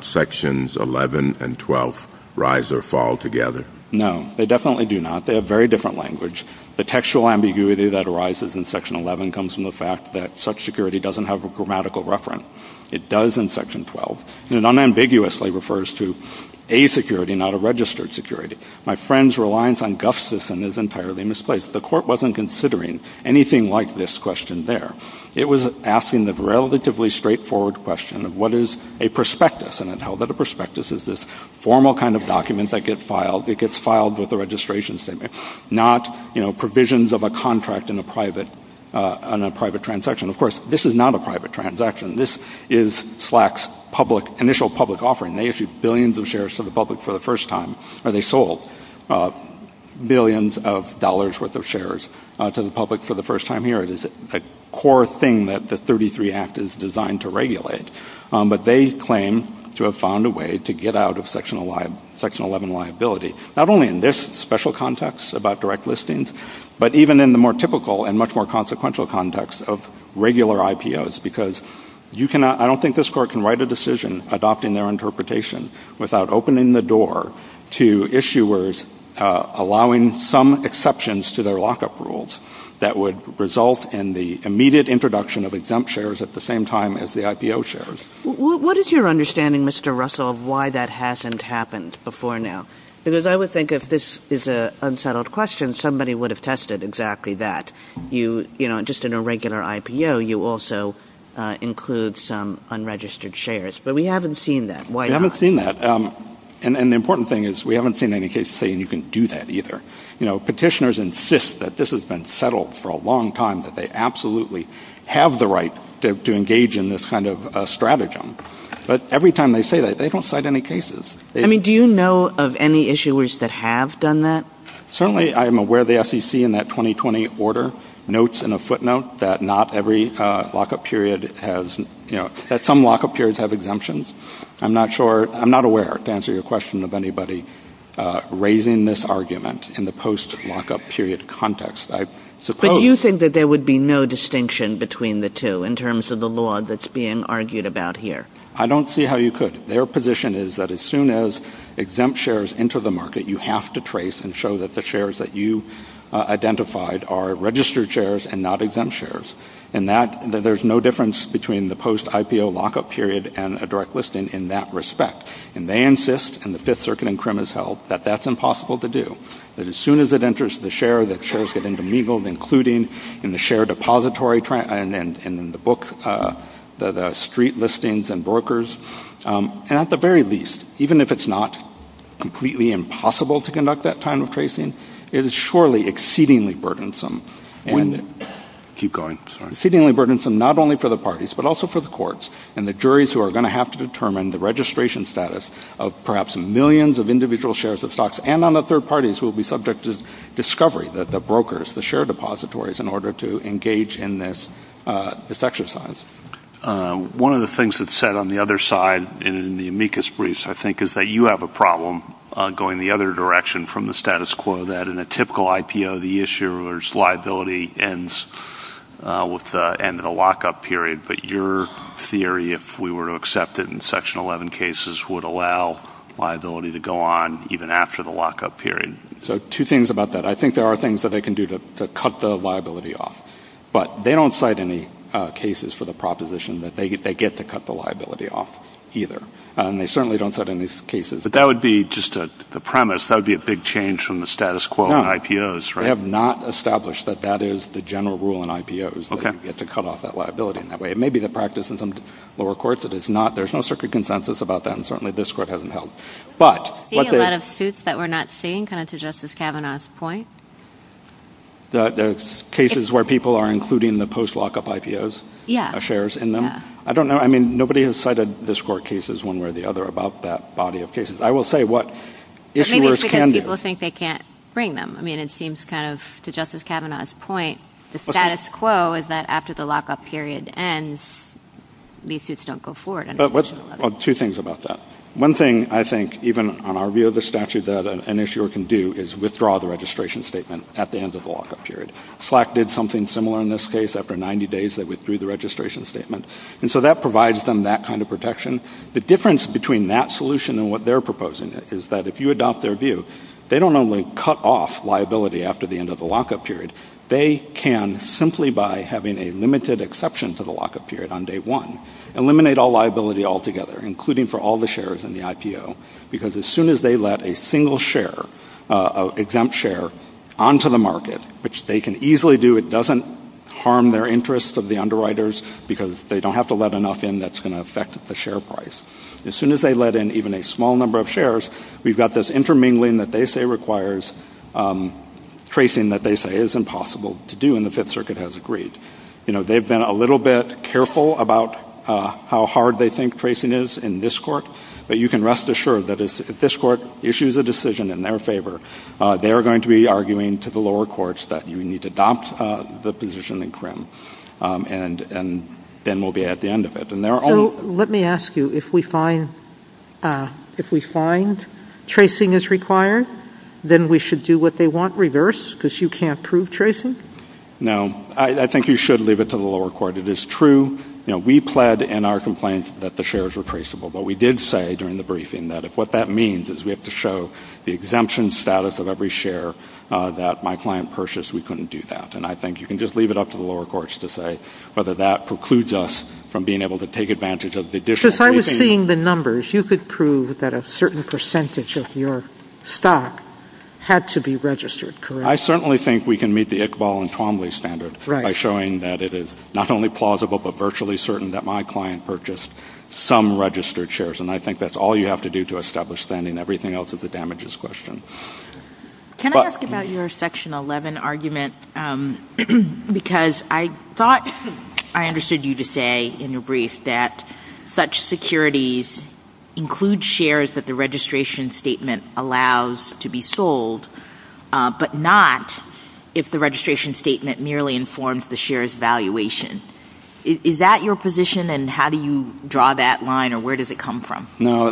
Sections 11 and 12 rise or fall together? No, they definitely do not. They have very different language. The textual ambiguity that arises in Section 11 comes from the fact that such security doesn't have a grammatical reference. It does in Section 12. It unambiguously refers to a security, not a registered security. My friend's reliance on guff system is entirely misplaced. The Court wasn't considering anything like this question there. It was asking the relatively straightforward question of what is a prospectus, and it held that a prospectus is this formal kind of document that gets filed. Not provisions of a contract in a private transaction. Of course, this is not a private transaction. This is SLAC's initial public offering. They issue billions of shares to the public for the first time. They sold billions of dollars' worth of shares to the public for the first time here. It is a core thing that the 33 Act is designed to regulate. But they claim to have found a way to get out of Section 11 liability, not only in this special context about direct listings, but even in the more typical and much more consequential context of regular IPOs, because I don't think this Court can write a decision adopting their interpretation without opening the door to issuers allowing some exceptions to their lockup rules that would result in the immediate introduction of exempt shares at the same time as the IPO shares. What is your understanding, Mr. Russell, of why that hasn't happened before now? Because I would think if this is an unsettled question, somebody would have tested exactly that. Just in a regular IPO, you also include some unregistered shares. But we haven't seen that. We haven't seen that. And the important thing is we haven't seen any case saying you can do that either. Petitioners insist that this has been settled for a long time, that they absolutely have the right to engage in this kind of stratagem. But every time they say that, they don't cite any cases. Do you know of any issuers that have done that? Certainly I'm aware the SEC in that 2020 order notes in a footnote that some lockup periods have exemptions. I'm not aware, to answer your question, of anybody raising this argument in the post-lockup period context. But do you think that there would be no distinction between the two in terms of the law that's being argued about here? I don't see how you could. Their position is that as soon as exempt shares enter the market, you have to trace and show that the shares that you identified are registered shares and not exempt shares. And that there's no difference between the post-IPO lockup period and a direct listing in that respect. And they insist, and the Fifth Circuit and CRIM has held, that that's impossible to do. That as soon as it enters the share, that shares get intermingled, including in the book, the street listings and brokers. And at the very least, even if it's not completely impossible to conduct that kind of tracing, it is surely exceedingly burdensome. And exceedingly burdensome not only for the parties but also for the courts and the juries who are going to have to determine the registration status of perhaps millions of individual shares of stocks and on the third parties who will be subject to discovery, the brokers, the share depositories, in order to engage in this exercise. One of the things that's said on the other side in the amicus briefs, I think, is that you have a problem going the other direction from the status quo, that in a typical IPO, the issuer's liability ends at a lockup period. But your theory, if we were to accept it in Section 11 cases, would allow liability to go on even after the lockup period. So two things about that. I think there are things that they can do to cut the liability off. But they don't cite any cases for the proposition that they get to cut the liability off either. And they certainly don't cite any cases. But that would be just the premise. That would be a big change from the status quo in IPOs. No, they have not established that that is the general rule in IPOs, that they get to cut off that liability in that way. It may be the practice in some lower courts that it's not. There's no circuit consensus about that. And certainly this court hasn't held. But what there's – Do you see a lot of suits that we're not seeing, kind of to Justice Kavanaugh's point? There's cases where people are including the post-lockup IPOs shares in them? Yeah. I don't know. I mean, nobody has cited this court cases one way or the other about that body of cases. I will say what issuers can do. Maybe it's because people think they can't bring them. I mean, it seems kind of, to Justice Kavanaugh's point, the status quo is that after the lockup period ends, these suits don't go forward. Two things about that. One thing I think even on our view of the statute that an issuer can do is withdraw the registration statement at the end of the lockup period. Slack did something similar in this case. After 90 days, they withdrew the registration statement. And so that provides them that kind of protection. The difference between that solution and what they're proposing is that if you adopt their view, they don't only cut off liability after the end of the lockup period. They can, simply by having a limited exception to the lockup period on day one, eliminate all liability altogether, including for all the shares in the IPO, because as soon as they let a single share, an exempt share, onto the market, which they can easily do, it doesn't harm their interest of the underwriters because they don't have to let enough in that's going to affect the share price. As soon as they let in even a small number of shares, we've got this intermingling that they say requires tracing that they say is impossible to do, and the Fifth Circuit has agreed. You know, they've been a little bit careful about how hard they think tracing is in this court, but you can rest assured that if this court issues a decision in their favor, they are going to be arguing to the lower courts that you need to adopt the position in CRIM, and then we'll be at the end of it. So let me ask you, if we find tracing is required, then we should do what they want, reverse, because you can't prove tracing? No. I think you should leave it to the lower court. It is true we pled in our complaint that the shares were traceable, but we did say during the briefing that if what that means is we have to show the exemption status of every share that my client purchased, we couldn't do that, and I think you can just leave it up to the lower courts to say whether that precludes us from being able to take advantage of the additional cases. So if I was seeing the numbers, you could prove that a certain percentage of your stock had to be registered, correct? I certainly think we can meet the Iqbal and Twombly standard by showing that it is not only plausible but virtually certain that my client purchased some registered shares, and I think that's all you have to do to establish that and everything else is a damages question. Can I ask about your Section 11 argument, because I thought I understood you to say in your brief that such securities include shares that the registration statement allows to be sold, but not if the registration statement merely informs the share's valuation. Is that your position, and how do you draw that line, or where does it come from? No,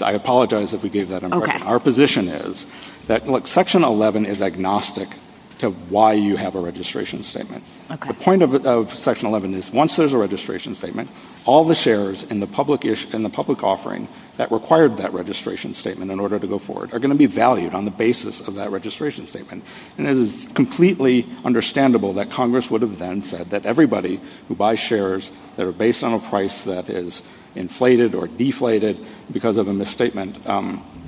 I apologize if we gave that impression. Our position is that Section 11 is agnostic to why you have a registration statement. The point of Section 11 is once there's a registration statement, all the shares in the public offering that required that registration statement in order to go forward are going to be valued on the basis of that registration statement, and it is completely understandable that Congress would have then said that everybody who buys shares that are based on a price that is inflated or deflated because of a misstatement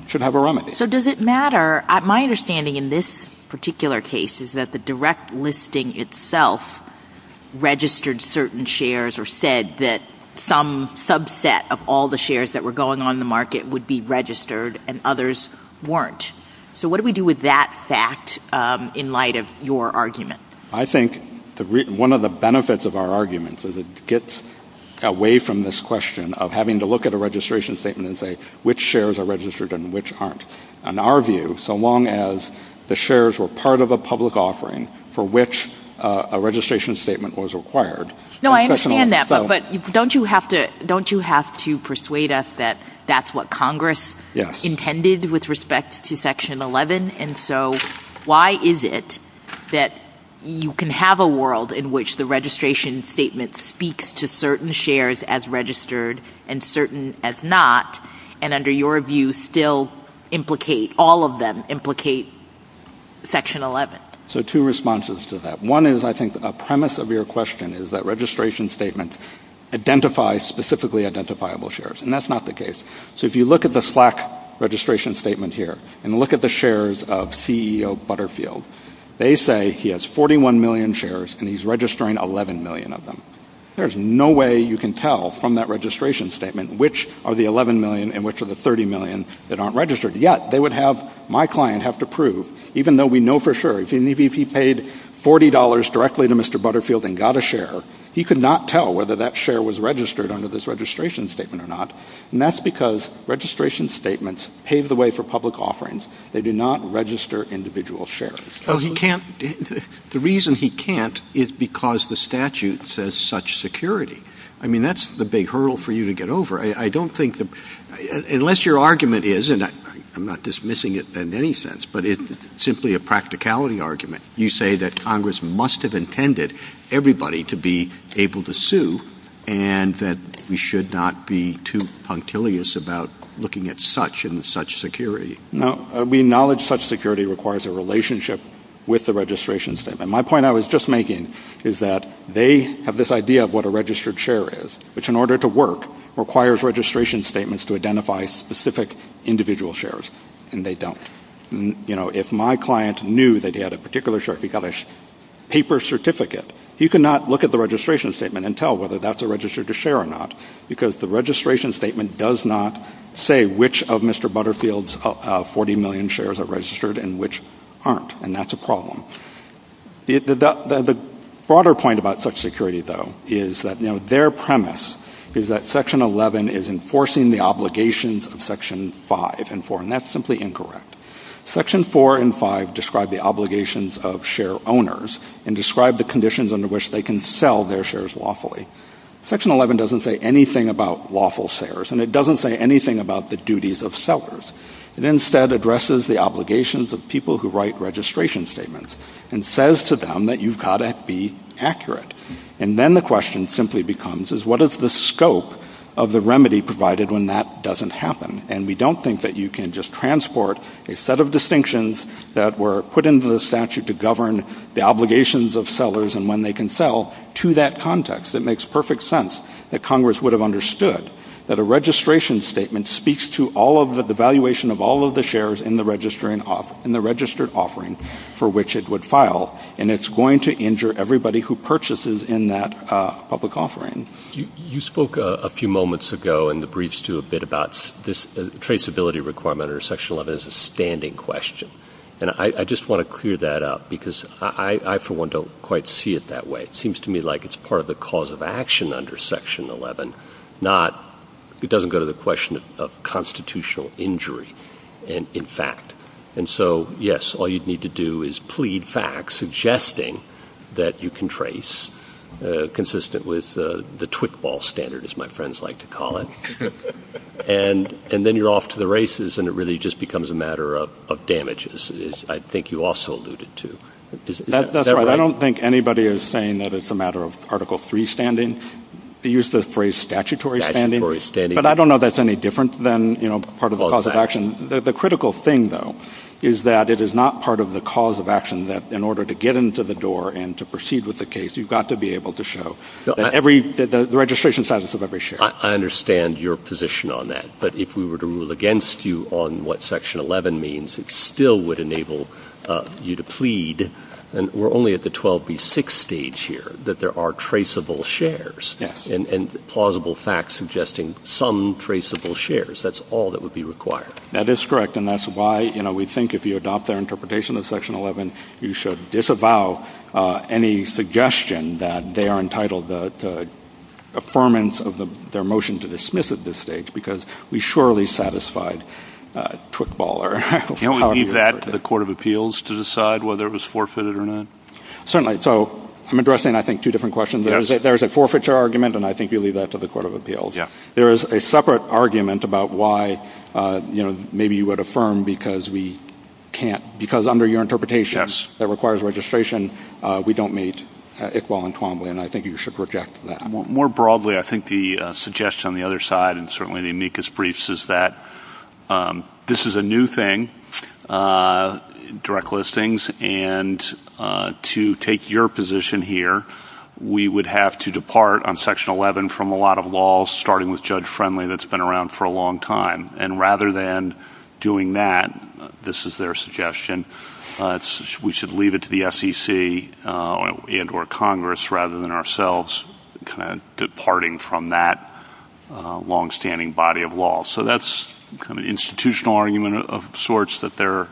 should have a remedy. So does it matter? My understanding in this particular case is that the direct listing itself registered certain shares or said that some subset of all the shares that were going on in the market would be registered and others weren't. So what do we do with that fact in light of your argument? I think one of the benefits of our argument is it gets away from this question of having to look at a registration statement and say which shares are registered and which aren't. In our view, so long as the shares were part of a public offering for which a registration statement was required. No, I understand that, but don't you have to persuade us that that's what Congress intended with respect to Section 11? And so why is it that you can have a world in which the registration statement speaks to certain shares as registered and certain as not, and under your view still implicate all of them, implicate Section 11? So two responses to that. One is I think the premise of your question is that registration statements identify specifically identifiable shares, and that's not the case. So if you look at the Slack registration statement here and look at the shares of CEO Butterfield, they say he has 41 million shares and he's registering 11 million of them. There's no way you can tell from that registration statement which are the 11 million and which are the 30 million that aren't registered. Yet they would have my client have to prove, even though we know for sure, even if he paid $40 directly to Mr. Butterfield and got a share, he could not tell whether that share was registered under this registration statement or not, and that's because registration statements pave the way for public offerings. They do not register individual shares. Oh, he can't? The reason he can't is because the statute says such security. I mean, that's the big hurdle for you to get over. I don't think unless your argument is, and I'm not dismissing it in any sense, but it's simply a practicality argument. You say that Congress must have intended everybody to be able to sue and that we should not be too punctilious about looking at such and such security. No, we acknowledge such security requires a relationship with the registration statement. My point I was just making is that they have this idea of what a registered share is, which in order to work requires registration statements to identify specific individual shares, and they don't. If my client knew that he had a particular share, if he got a paper certificate, he could not look at the registration statement and tell whether that's a registered share or not because the registration statement does not say which of Mr. Butterfield's 40 million shares are registered and which aren't, and that's a problem. The broader point about such security, though, is that their premise is that Section 11 is enforcing the obligations of Section 5 and 4, and that's simply incorrect. Section 4 and 5 describe the obligations of share owners and describe the conditions under which they can sell their shares lawfully. Section 11 doesn't say anything about lawful sales, and it doesn't say anything about the duties of sellers. It instead addresses the obligations of people who write registration statements and says to them that you've got to be accurate, and then the question simply becomes is what is the scope of the remedy provided when that doesn't happen, and we don't think that you can just transport a set of distinctions that were put into the statute to govern the obligations of sellers and when they can sell to that context. It makes perfect sense that Congress would have understood that a registration statement speaks to the valuation of all of the shares in the registered offering for which it would file, and it's going to injure everybody who purchases in that public offering. You spoke a few moments ago in the briefs, too, a bit about this traceability requirement under Section 11 as a standing question, and I just want to clear that up because I, for one, don't quite see it that way. It seems to me like it's part of the cause of action under Section 11. It doesn't go to the question of constitutional injury in fact, and so, yes, all you'd need to do is plead facts suggesting that you can trace consistent with the twig ball standard, as my friends like to call it, and then you're off to the races, and it really just becomes a matter of damages, as I think you also alluded to. That's right. I don't think anybody is saying that it's a matter of Article 3 standing. They use the phrase statutory standing, but I don't know if that's any different than part of the cause of action. The critical thing, though, is that it is not part of the cause of action that in order to get into the door and to proceed with the case, you've got to be able to show the registration status of every share. I understand your position on that, but if we were to rule against you on what Section 11 means, it still would enable you to plead, and we're only at the 12B6 stage here, that there are traceable shares and plausible facts suggesting some traceable shares. That's all that would be required. That is correct, and that's why we think if you adopt that interpretation of Section 11, you should disavow any suggestion that they are entitled to affirmance of their motion to dismiss at this stage, because we surely satisfied twig baller. Can we leave that to the Court of Appeals to decide whether it was forfeited or not? Certainly. So I'm addressing, I think, two different questions. There is a forfeiture argument, and I think you leave that to the Court of Appeals. There is a separate argument about why maybe you would affirm because we can't, because under your interpretation that requires registration, we don't meet Iqbal and Twombly, and I think you should reject that. More broadly, I think the suggestion on the other side, and certainly the amicus briefs, is that this is a new thing, direct listings, and to take your position here, we would have to depart on Section 11 from a lot of laws, starting with Judge Friendly, that's been around for a long time, and rather than doing that, this is their suggestion, we should leave it to the SEC and or Congress rather than ourselves departing from that longstanding body of law. So that's the institutional argument of sorts that they're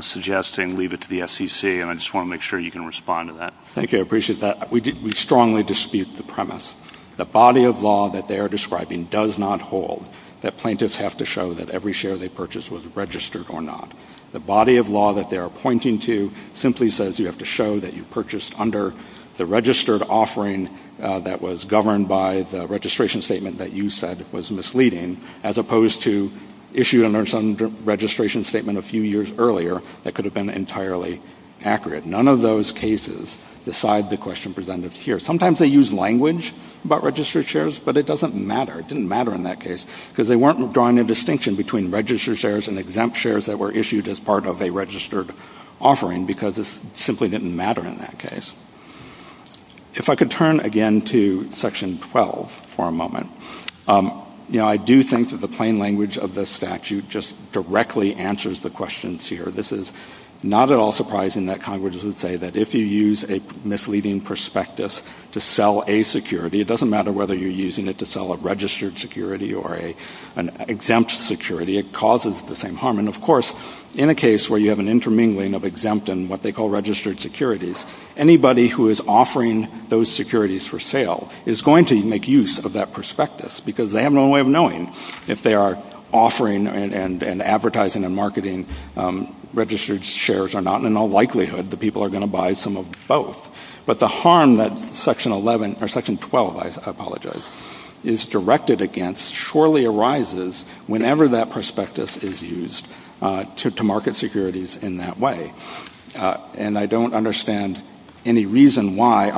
suggesting, leave it to the SEC, and I just want to make sure you can respond to that. Thank you. I appreciate that. We strongly dispute the premise. The body of law that they are describing does not hold that plaintiffs have to show that every share they purchase was registered or not. The body of law that they are pointing to simply says you have to show that you purchased under the registered offering that was governed by the registration statement that you said was misleading, as opposed to issued under some registration statement a few years earlier that could have been entirely accurate. None of those cases decide the question presented here. Sometimes they use language about registered shares, but it doesn't matter. It didn't matter in that case because they weren't drawing a distinction between registered shares and exempt shares that were issued as part of a registered offering because this simply didn't matter in that case. If I could turn again to Section 12 for a moment, you know, I do think that the plain language of this statute just directly answers the questions here. This is not at all surprising that Congress would say that if you use a misleading prospectus to sell a security, it doesn't matter whether you're using it to sell a registered security or an exempt security, it causes the same harm. And, of course, in a case where you have an intermingling of exempt and what they call registered securities, anybody who is offering those securities for sale is going to make use of that prospectus because they have no way of knowing if they are offering and advertising and marketing registered shares or not, and in all likelihood the people are going to buy some of both. But the harm that Section 12 is directed against surely arises whenever that prospectus is used to market securities in that way. And I don't understand any reason why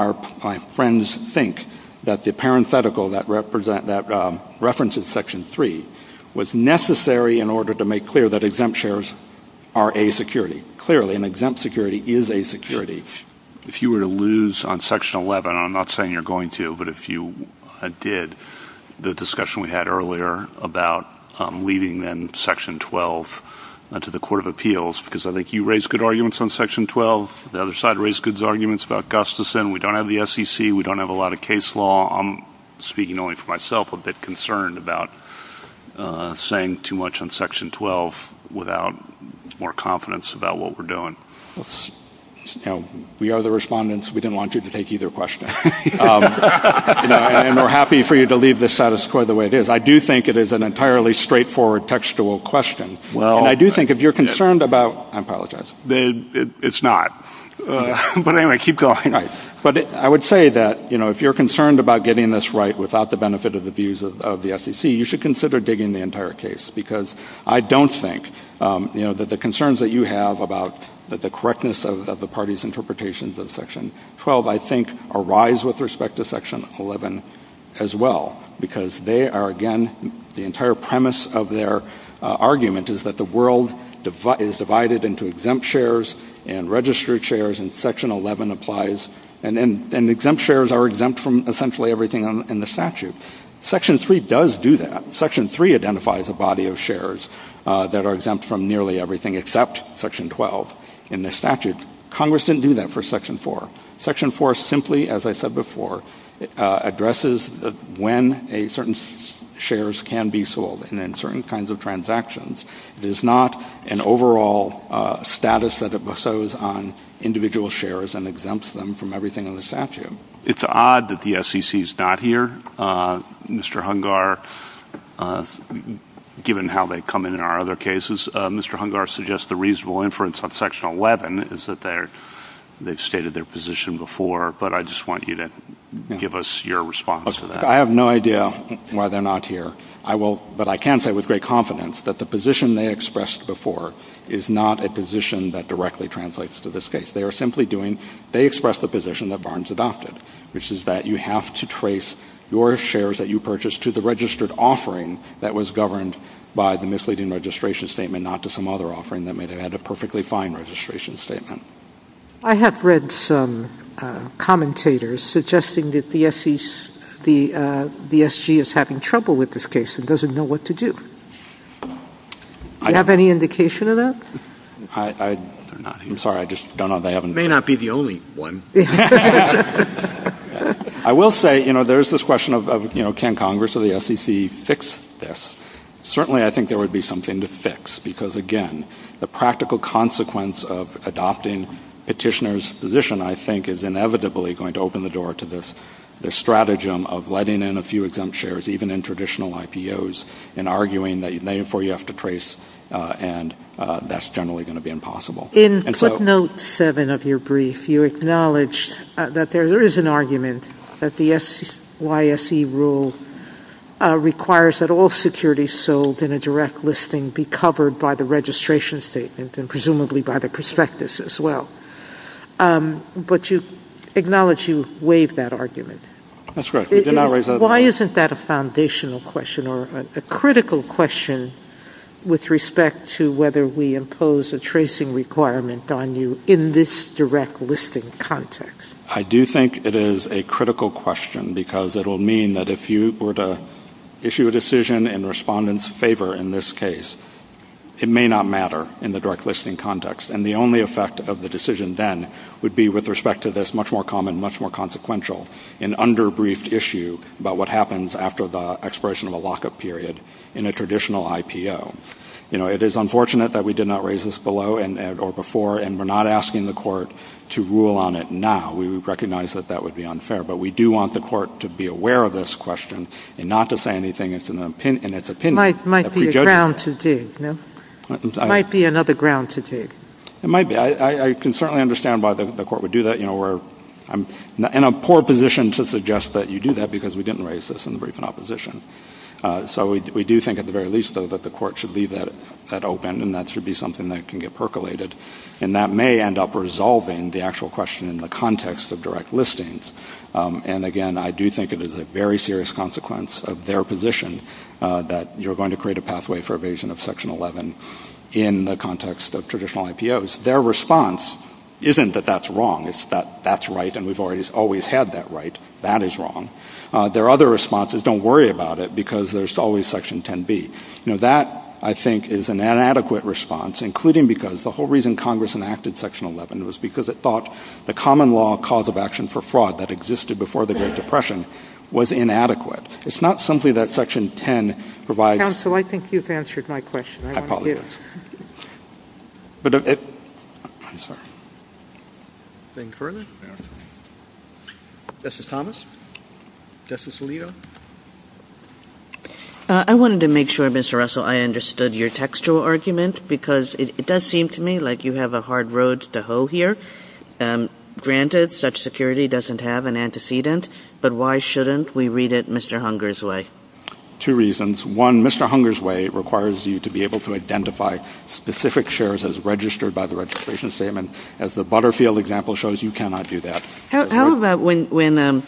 my friends think that the parenthetical that references Section 3 was necessary in order to make clear that exempt shares are a security. Clearly, an exempt security is a security. If you were to lose on Section 11, and I'm not saying you're going to, but if you did the discussion we had earlier about leaving then Section 12 to the Court of Appeals, because I think you raised good arguments on Section 12, the other side raised good arguments about Gustafson, we don't have the SEC, we don't have a lot of case law, I'm speaking only for myself, a bit concerned about saying too much on Section 12 without more confidence about what we're doing. We are the respondents. We didn't want you to take either question. And we're happy for you to leave this out of the way it is. I do think it is an entirely straightforward textual question. I do think if you're concerned about – I apologize. It's not. But anyway, keep going. But I would say that if you're concerned about getting this right without the benefit of the views of the SEC, you should consider digging the entire case, because I don't think that the concerns that you have about the correctness of the parties' interpretations of Section 12, I think, arise with respect to Section 11 as well, because they are, again, the entire premise of their argument is that the world is divided into exempt shares and registered shares, and Section 11 applies. And exempt shares are exempt from essentially everything in the statute. Section 3 does do that. Section 3 identifies a body of shares that are exempt from nearly everything except Section 12 in the statute. Congress didn't do that for Section 4. Section 4 simply, as I said before, addresses when certain shares can be sold and in certain kinds of transactions. It is not an overall status that it bestows on individual shares and exempts them from everything in the statute. It's odd that the SEC is not here. Mr. Hungar, given how they come in in our other cases, Mr. Hungar suggests the reasonable inference of Section 11 is that they've stated their position before, but I just want you to give us your response to that. I have no idea why they're not here. But I can say with great confidence that the position they expressed before is not a position that directly translates to this case. They express the position that Barnes adopted, which is that you have to trace your shares that you purchased to the registered offering that was governed by the misleading registration statement, not to some other offering that may have had a perfectly fine registration statement. I have read some commentators suggesting that the SG is having trouble with this case and doesn't know what to do. Do you have any indication of that? I'm sorry. I just don't know. It may not be the only one. I will say, you know, there's this question of, you know, can Congress or the SEC fix this? Certainly I think there would be something to fix, because, again, the practical consequence of adopting Petitioner's position, I think, is inevitably going to open the door to this stratagem of letting in a few exempt shares, even in traditional IPOs, and arguing that, therefore, you have to trace, and that's generally going to be impossible. In Clip Note 7 of your brief, you acknowledge that there is an argument that the SYSE rule requires that all securities sold in a direct listing be covered by the registration statement, and presumably by the prospectus as well. But you acknowledge you waive that argument. That's right. Why isn't that a foundational question, or a critical question, with respect to whether we impose a tracing requirement on you in this direct listing context? I do think it is a critical question, because it will mean that if you were to issue a decision in the respondent's favor in this case, it may not matter in the direct listing context. And the only effect of the decision then would be, with respect to this much more common, much more consequential, an under-briefed issue about what happens after the expiration of a lockup period in a traditional IPO. You know, it is unfortunate that we did not raise this below or before, and we're not asking the Court to rule on it now. We recognize that that would be unfair. But we do want the Court to be aware of this question and not to say anything in its opinion. It might be a ground to dig. It might be another ground to dig. It might be. I can certainly understand why the Court would do that. You know, we're in a poor position to suggest that you do that, because we didn't raise this in the briefing opposition. So we do think at the very least, though, that the Court should leave that open, and that should be something that can get percolated. And that may end up resolving the actual question in the context of direct listings. And, again, I do think it is a very serious consequence of their position that you're going to create a pathway for evasion of Section 11 in the context of traditional IPOs. Their response isn't that that's wrong. It's that that's right, and we've always had that right. That is wrong. Their other response is don't worry about it, because there's always Section 10b. You know, that, I think, is an inadequate response, including because the whole reason Congress enacted Section 11 was because it thought the common law cause of action for fraud that existed before the Great Depression was inadequate. It's not something that Section 10 provides. Counsel, I think you've answered my question. I want to do it. I'm sorry. Anything further? Justice Thomas? Justice Alito? I wanted to make sure, Mr. Russell, I understood your textual argument, because it does seem to me like you have a hard road to hoe here. Granted, such security doesn't have an antecedent, but why shouldn't we read it Mr. Hunger's way? Two reasons. One, Mr. Hunger's way requires you to be able to identify specific shares as registered by the registration statement. As the Butterfield example shows, you cannot do that. How about when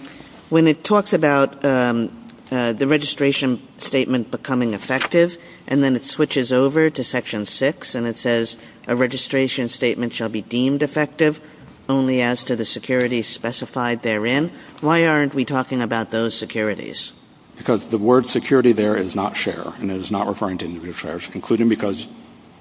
it talks about the registration statement becoming effective, and then it switches over to Section 6, and it says a registration statement shall be deemed effective only as to the security specified therein. Why aren't we talking about those securities? Because the word security there is not share, and it is not referring to individual shares, including because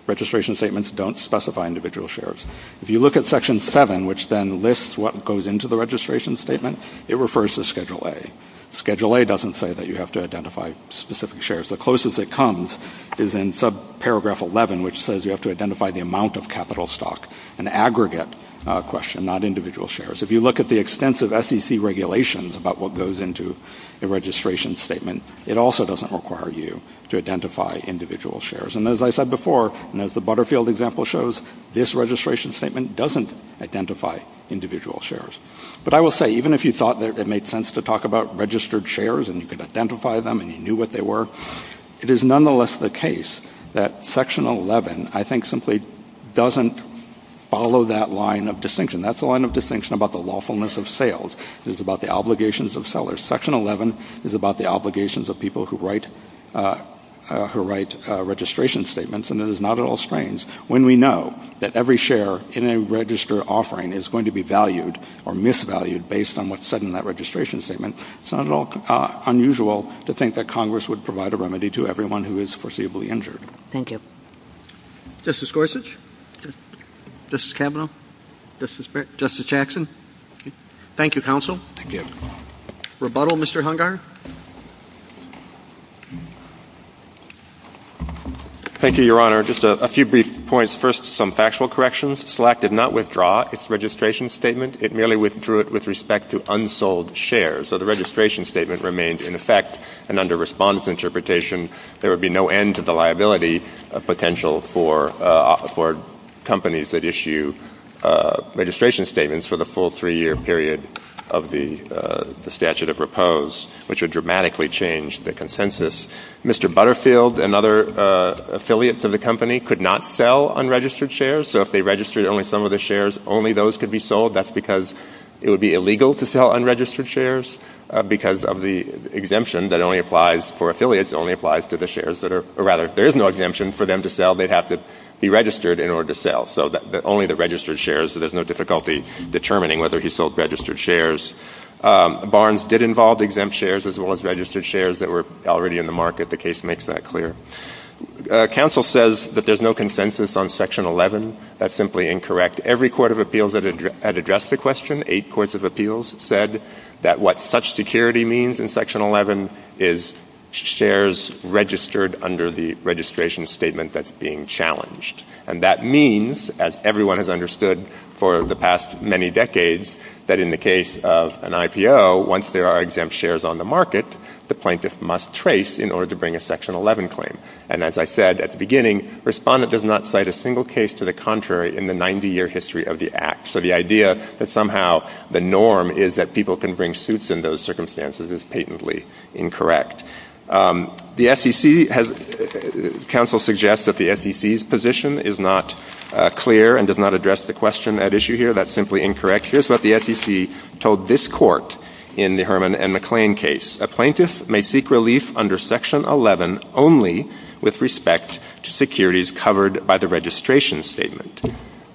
registration statements don't specify individual shares. If you look at Section 7, which then lists what goes into the registration statement, it refers to Schedule A. Schedule A doesn't say that you have to identify specific shares. The closest it comes is in subparagraph 11, which says you have to identify the amount of capital stock, an aggregate question, not individual shares. If you look at the extensive SEC regulations about what goes into the registration statement, it also doesn't require you to identify individual shares. And as I said before, and as the Butterfield example shows, this registration statement doesn't identify individual shares. But I will say, even if you thought that it made sense to talk about registered shares and you could identify them and you knew what they were, it is nonetheless the case that Section 11, I think, simply doesn't follow that line of distinction. That's the line of distinction about the lawfulness of sales. It is about the obligations of sellers. Section 11 is about the obligations of people who write registration statements, and it is not at all strange. When we know that every share in a register offering is going to be valued or misvalued based on what's said in that registration statement, it's not at all unusual to think that Congress would provide a remedy to everyone who is foreseeably injured. Thank you. Justice Gorsuch? Justice Kavanaugh? Justice Jackson? Thank you, Counsel. Thank you. Rebuttal, Mr. Hungar? Thank you, Your Honor. Just a few brief points. First, some factual corrections. SLEC did not withdraw its registration statement. It merely withdrew it with respect to unsold shares. So the registration statement remained in effect, and under response to interpretation, there would be no end to the liability potential for companies that issue registration statements for the full three-year period of the statute of propose, which would dramatically change the consensus. Mr. Butterfield and other affiliates of the company could not sell unregistered shares, so if they registered only some of their shares, only those could be sold. That's because it would be illegal to sell unregistered shares because of the exemption that only applies for affiliates. It only applies to the shares that are, or rather, if there is no exemption for them to sell, they'd have to be registered in order to sell, so only the registered shares, so there's no difficulty determining whether he sold registered shares. Barnes did involve exempt shares as well as registered shares that were already in the market. The case makes that clear. Counsel says that there's no consensus on Section 11. That's simply incorrect. Every court of appeals that addressed the question, eight courts of appeals, said that what such security means in Section 11 is shares registered under the registration statement that's being challenged, and that means, as everyone has understood for the past many decades, that in the case of an IPO, once there are exempt shares on the market, the plaintiff must trace in order to bring a Section 11 claim, and as I said at the beginning, Respondent does not cite a single case to the contrary in the 90-year history of the Act, so the idea that somehow the norm is that people can bring suits in those circumstances is patently incorrect. The SEC has ‑‑ Counsel suggests that the SEC's position is not clear and does not address the question at issue here. That's simply incorrect. Here's what the SEC told this court in the Herman and McClain case. It says, a plaintiff may seek relief under Section 11 only with respect to securities covered by the registration statement.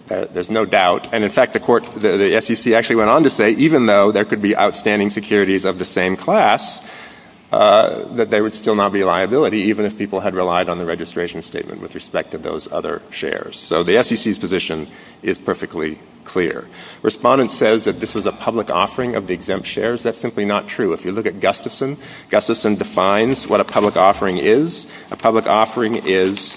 There's no doubt, and in fact, the SEC actually went on to say, even though there could be outstanding securities of the same class, that there would still not be liability, even if people had relied on the registration statement with respect to those other shares. So the SEC's position is perfectly clear. Respondent says that this is a public offering of the exempt shares. That's simply not true. If you look at Gustafson, Gustafson defines what a public offering is. A public offering is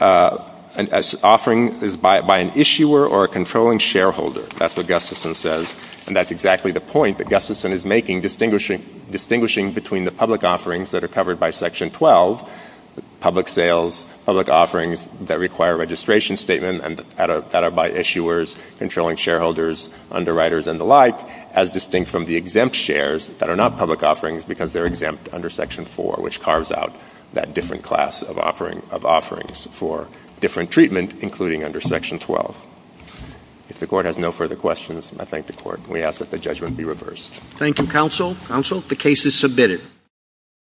an offering by an issuer or a controlling shareholder. That's what Gustafson says, and that's exactly the point that Gustafson is making, distinguishing between the public offerings that are covered by Section 12, public sales, public offerings that require a registration statement and that are by issuers, controlling shareholders, underwriters, and the like, as distinct from the exempt shares that are not public offerings because they're exempt under Section 4, which carves out that different class of offerings for different treatment, including under Section 12. If the Court has no further questions, I thank the Court, and we ask that the judgment be reversed. Thank you, counsel. Counsel, the case is submitted.